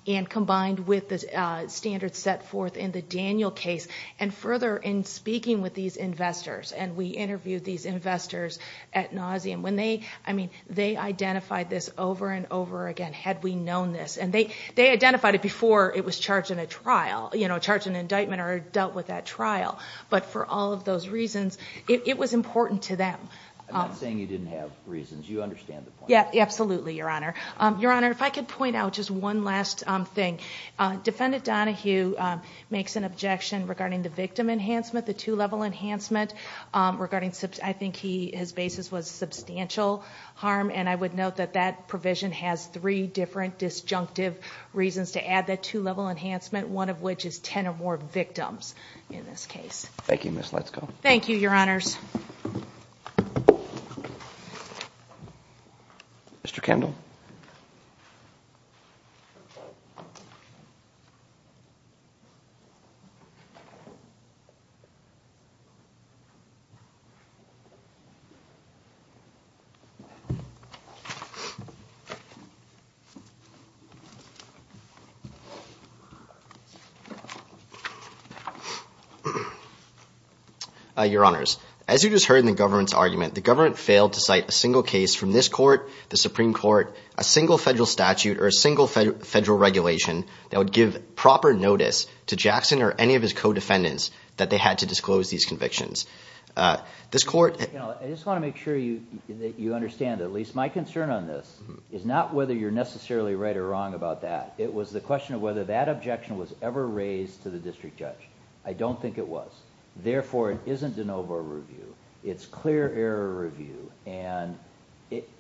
and combined with the standards set forth in the Daniel case and further in speaking with these investors. And we interviewed these investors at Nauseam. They identified this over and over again, had we known this. And they identified it before it was charged in a trial, charged in an indictment or dealt with at trial. But for all of those reasons, it was important to them. I'm not saying you didn't have reasons. You understand the point. Yeah, absolutely, Your Honor. Your Honor, if I could point out just one last thing. Defendant Donahue makes an objection regarding the victim enhancement, the two-level enhancement. I think his basis was substantial harm, and I would note that that provision has three different disjunctive reasons to add that two-level enhancement, one of which is 10 or more victims in this case. Thank you, Ms. Letzko. Thank you, Your Honors. Mr. Kimball. Your Honors, as you just heard in the government's argument, the government failed to cite a single case from this court, the Supreme Court, a single federal statute or a single federal regulation that would give proper notice to Jackson or any of his co-defendants that they had to disclose these convictions. I just want to make sure that you understand, at least my concern on this is not whether you're necessarily right or wrong about that. It was the question of whether that objection was ever raised to the district judge. I don't think it was. Therefore, it isn't de novo review. It's clear error review, and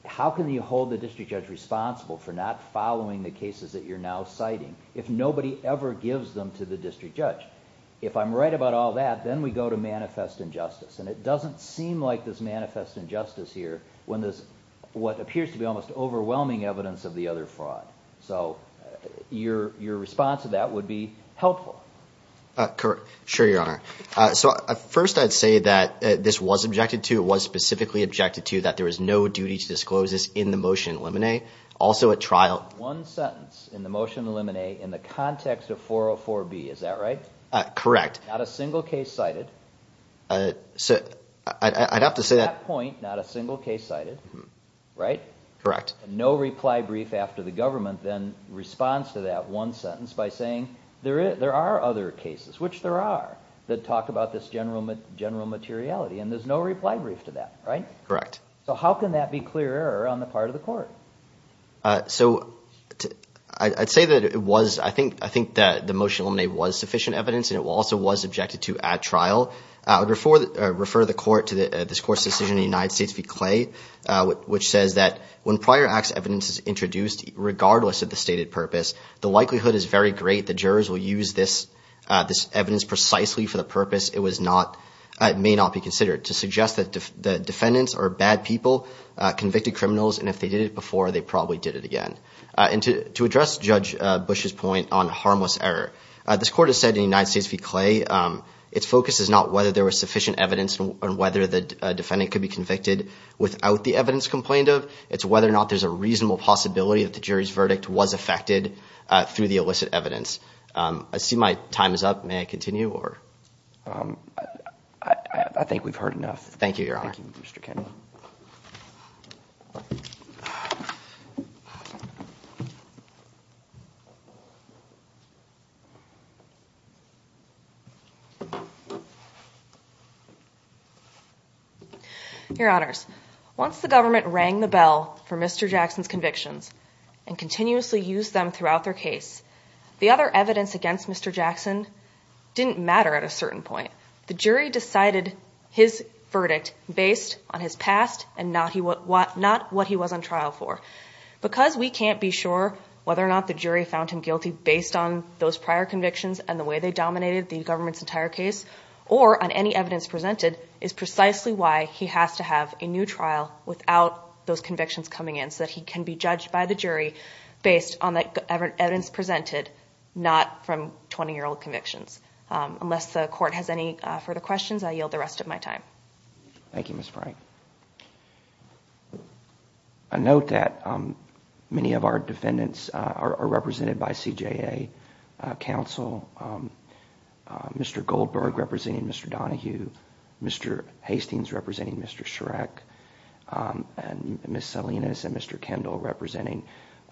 how can you hold the district judge responsible for not following the cases that you're now citing if nobody ever gives them to the district judge? If I'm right about all that, then we go to manifest injustice, and it doesn't seem like there's manifest injustice here when there's what appears to be almost overwhelming evidence of the other fraud. So your response to that would be helpful. Sure, Your Honor. First, I'd say that this was objected to, it was specifically objected to, that there is no duty to disclose this in the motion in limine. Also, a trial- One sentence in the motion in limine in the context of 404B, is that right? Correct. Not a single case cited. I'd have to say- At that point, not a single case cited, right? Correct. No reply brief after the government, then responds to that one sentence by saying, there are other cases, which there are, that talk about this general materiality, and there's no reply brief to that, right? Correct. So how can that be clear error on the part of the court? So I'd say that it was- I think the motion in limine was sufficient evidence, and it also was objected to at trial. I would refer the court to this court's decision in the United States v. Clay, which says that, when prior acts evidence is introduced, regardless of the stated purpose, the likelihood is very great the jurors will use this evidence precisely for the purpose it may not be considered, to suggest that the defendants are bad people, convicted criminals, and if they did it before, they probably did it again. And to address Judge Bush's point on harmless error, this court has said in the United States v. Clay, its focus is not whether there was sufficient evidence on whether the defendant could be convicted without the evidence complained of, it's whether or not there's a reasonable possibility that the jury's verdict was affected through the illicit evidence. I see my time is up. May I continue? I think we've heard enough. Thank you, Your Honor. Thank you, Mr. Kennedy. Your Honors, once the government rang the bell for Mr. Jackson's convictions and continuously used them throughout their case, the other evidence against Mr. Jackson didn't matter at a certain point. The jury decided his verdict based on his past and not what he was on trial for. Because we can't be sure whether or not the jury found him guilty based on those prior convictions and the way they dominated the government's entire case, or on any evidence presented is precisely why he has to have a new trial without those convictions coming in, so that he can be judged by the jury based on the evidence presented, not from 20-year-old convictions. Unless the court has any further questions, I yield the rest of my time. Thank you, Ms. Frank. I note that many of our defendants are represented by CJA counsel. Mr. Goldberg representing Mr. Donahue, Mr. Hastings representing Mr. Schreck, Ms. Salinas and Mr. Kendall representing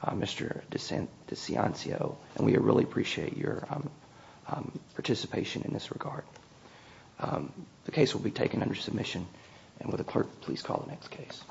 Mr. DeCiancio, and we really appreciate your participation in this regard. The case will be taken under submission, and would the clerk please call the next case.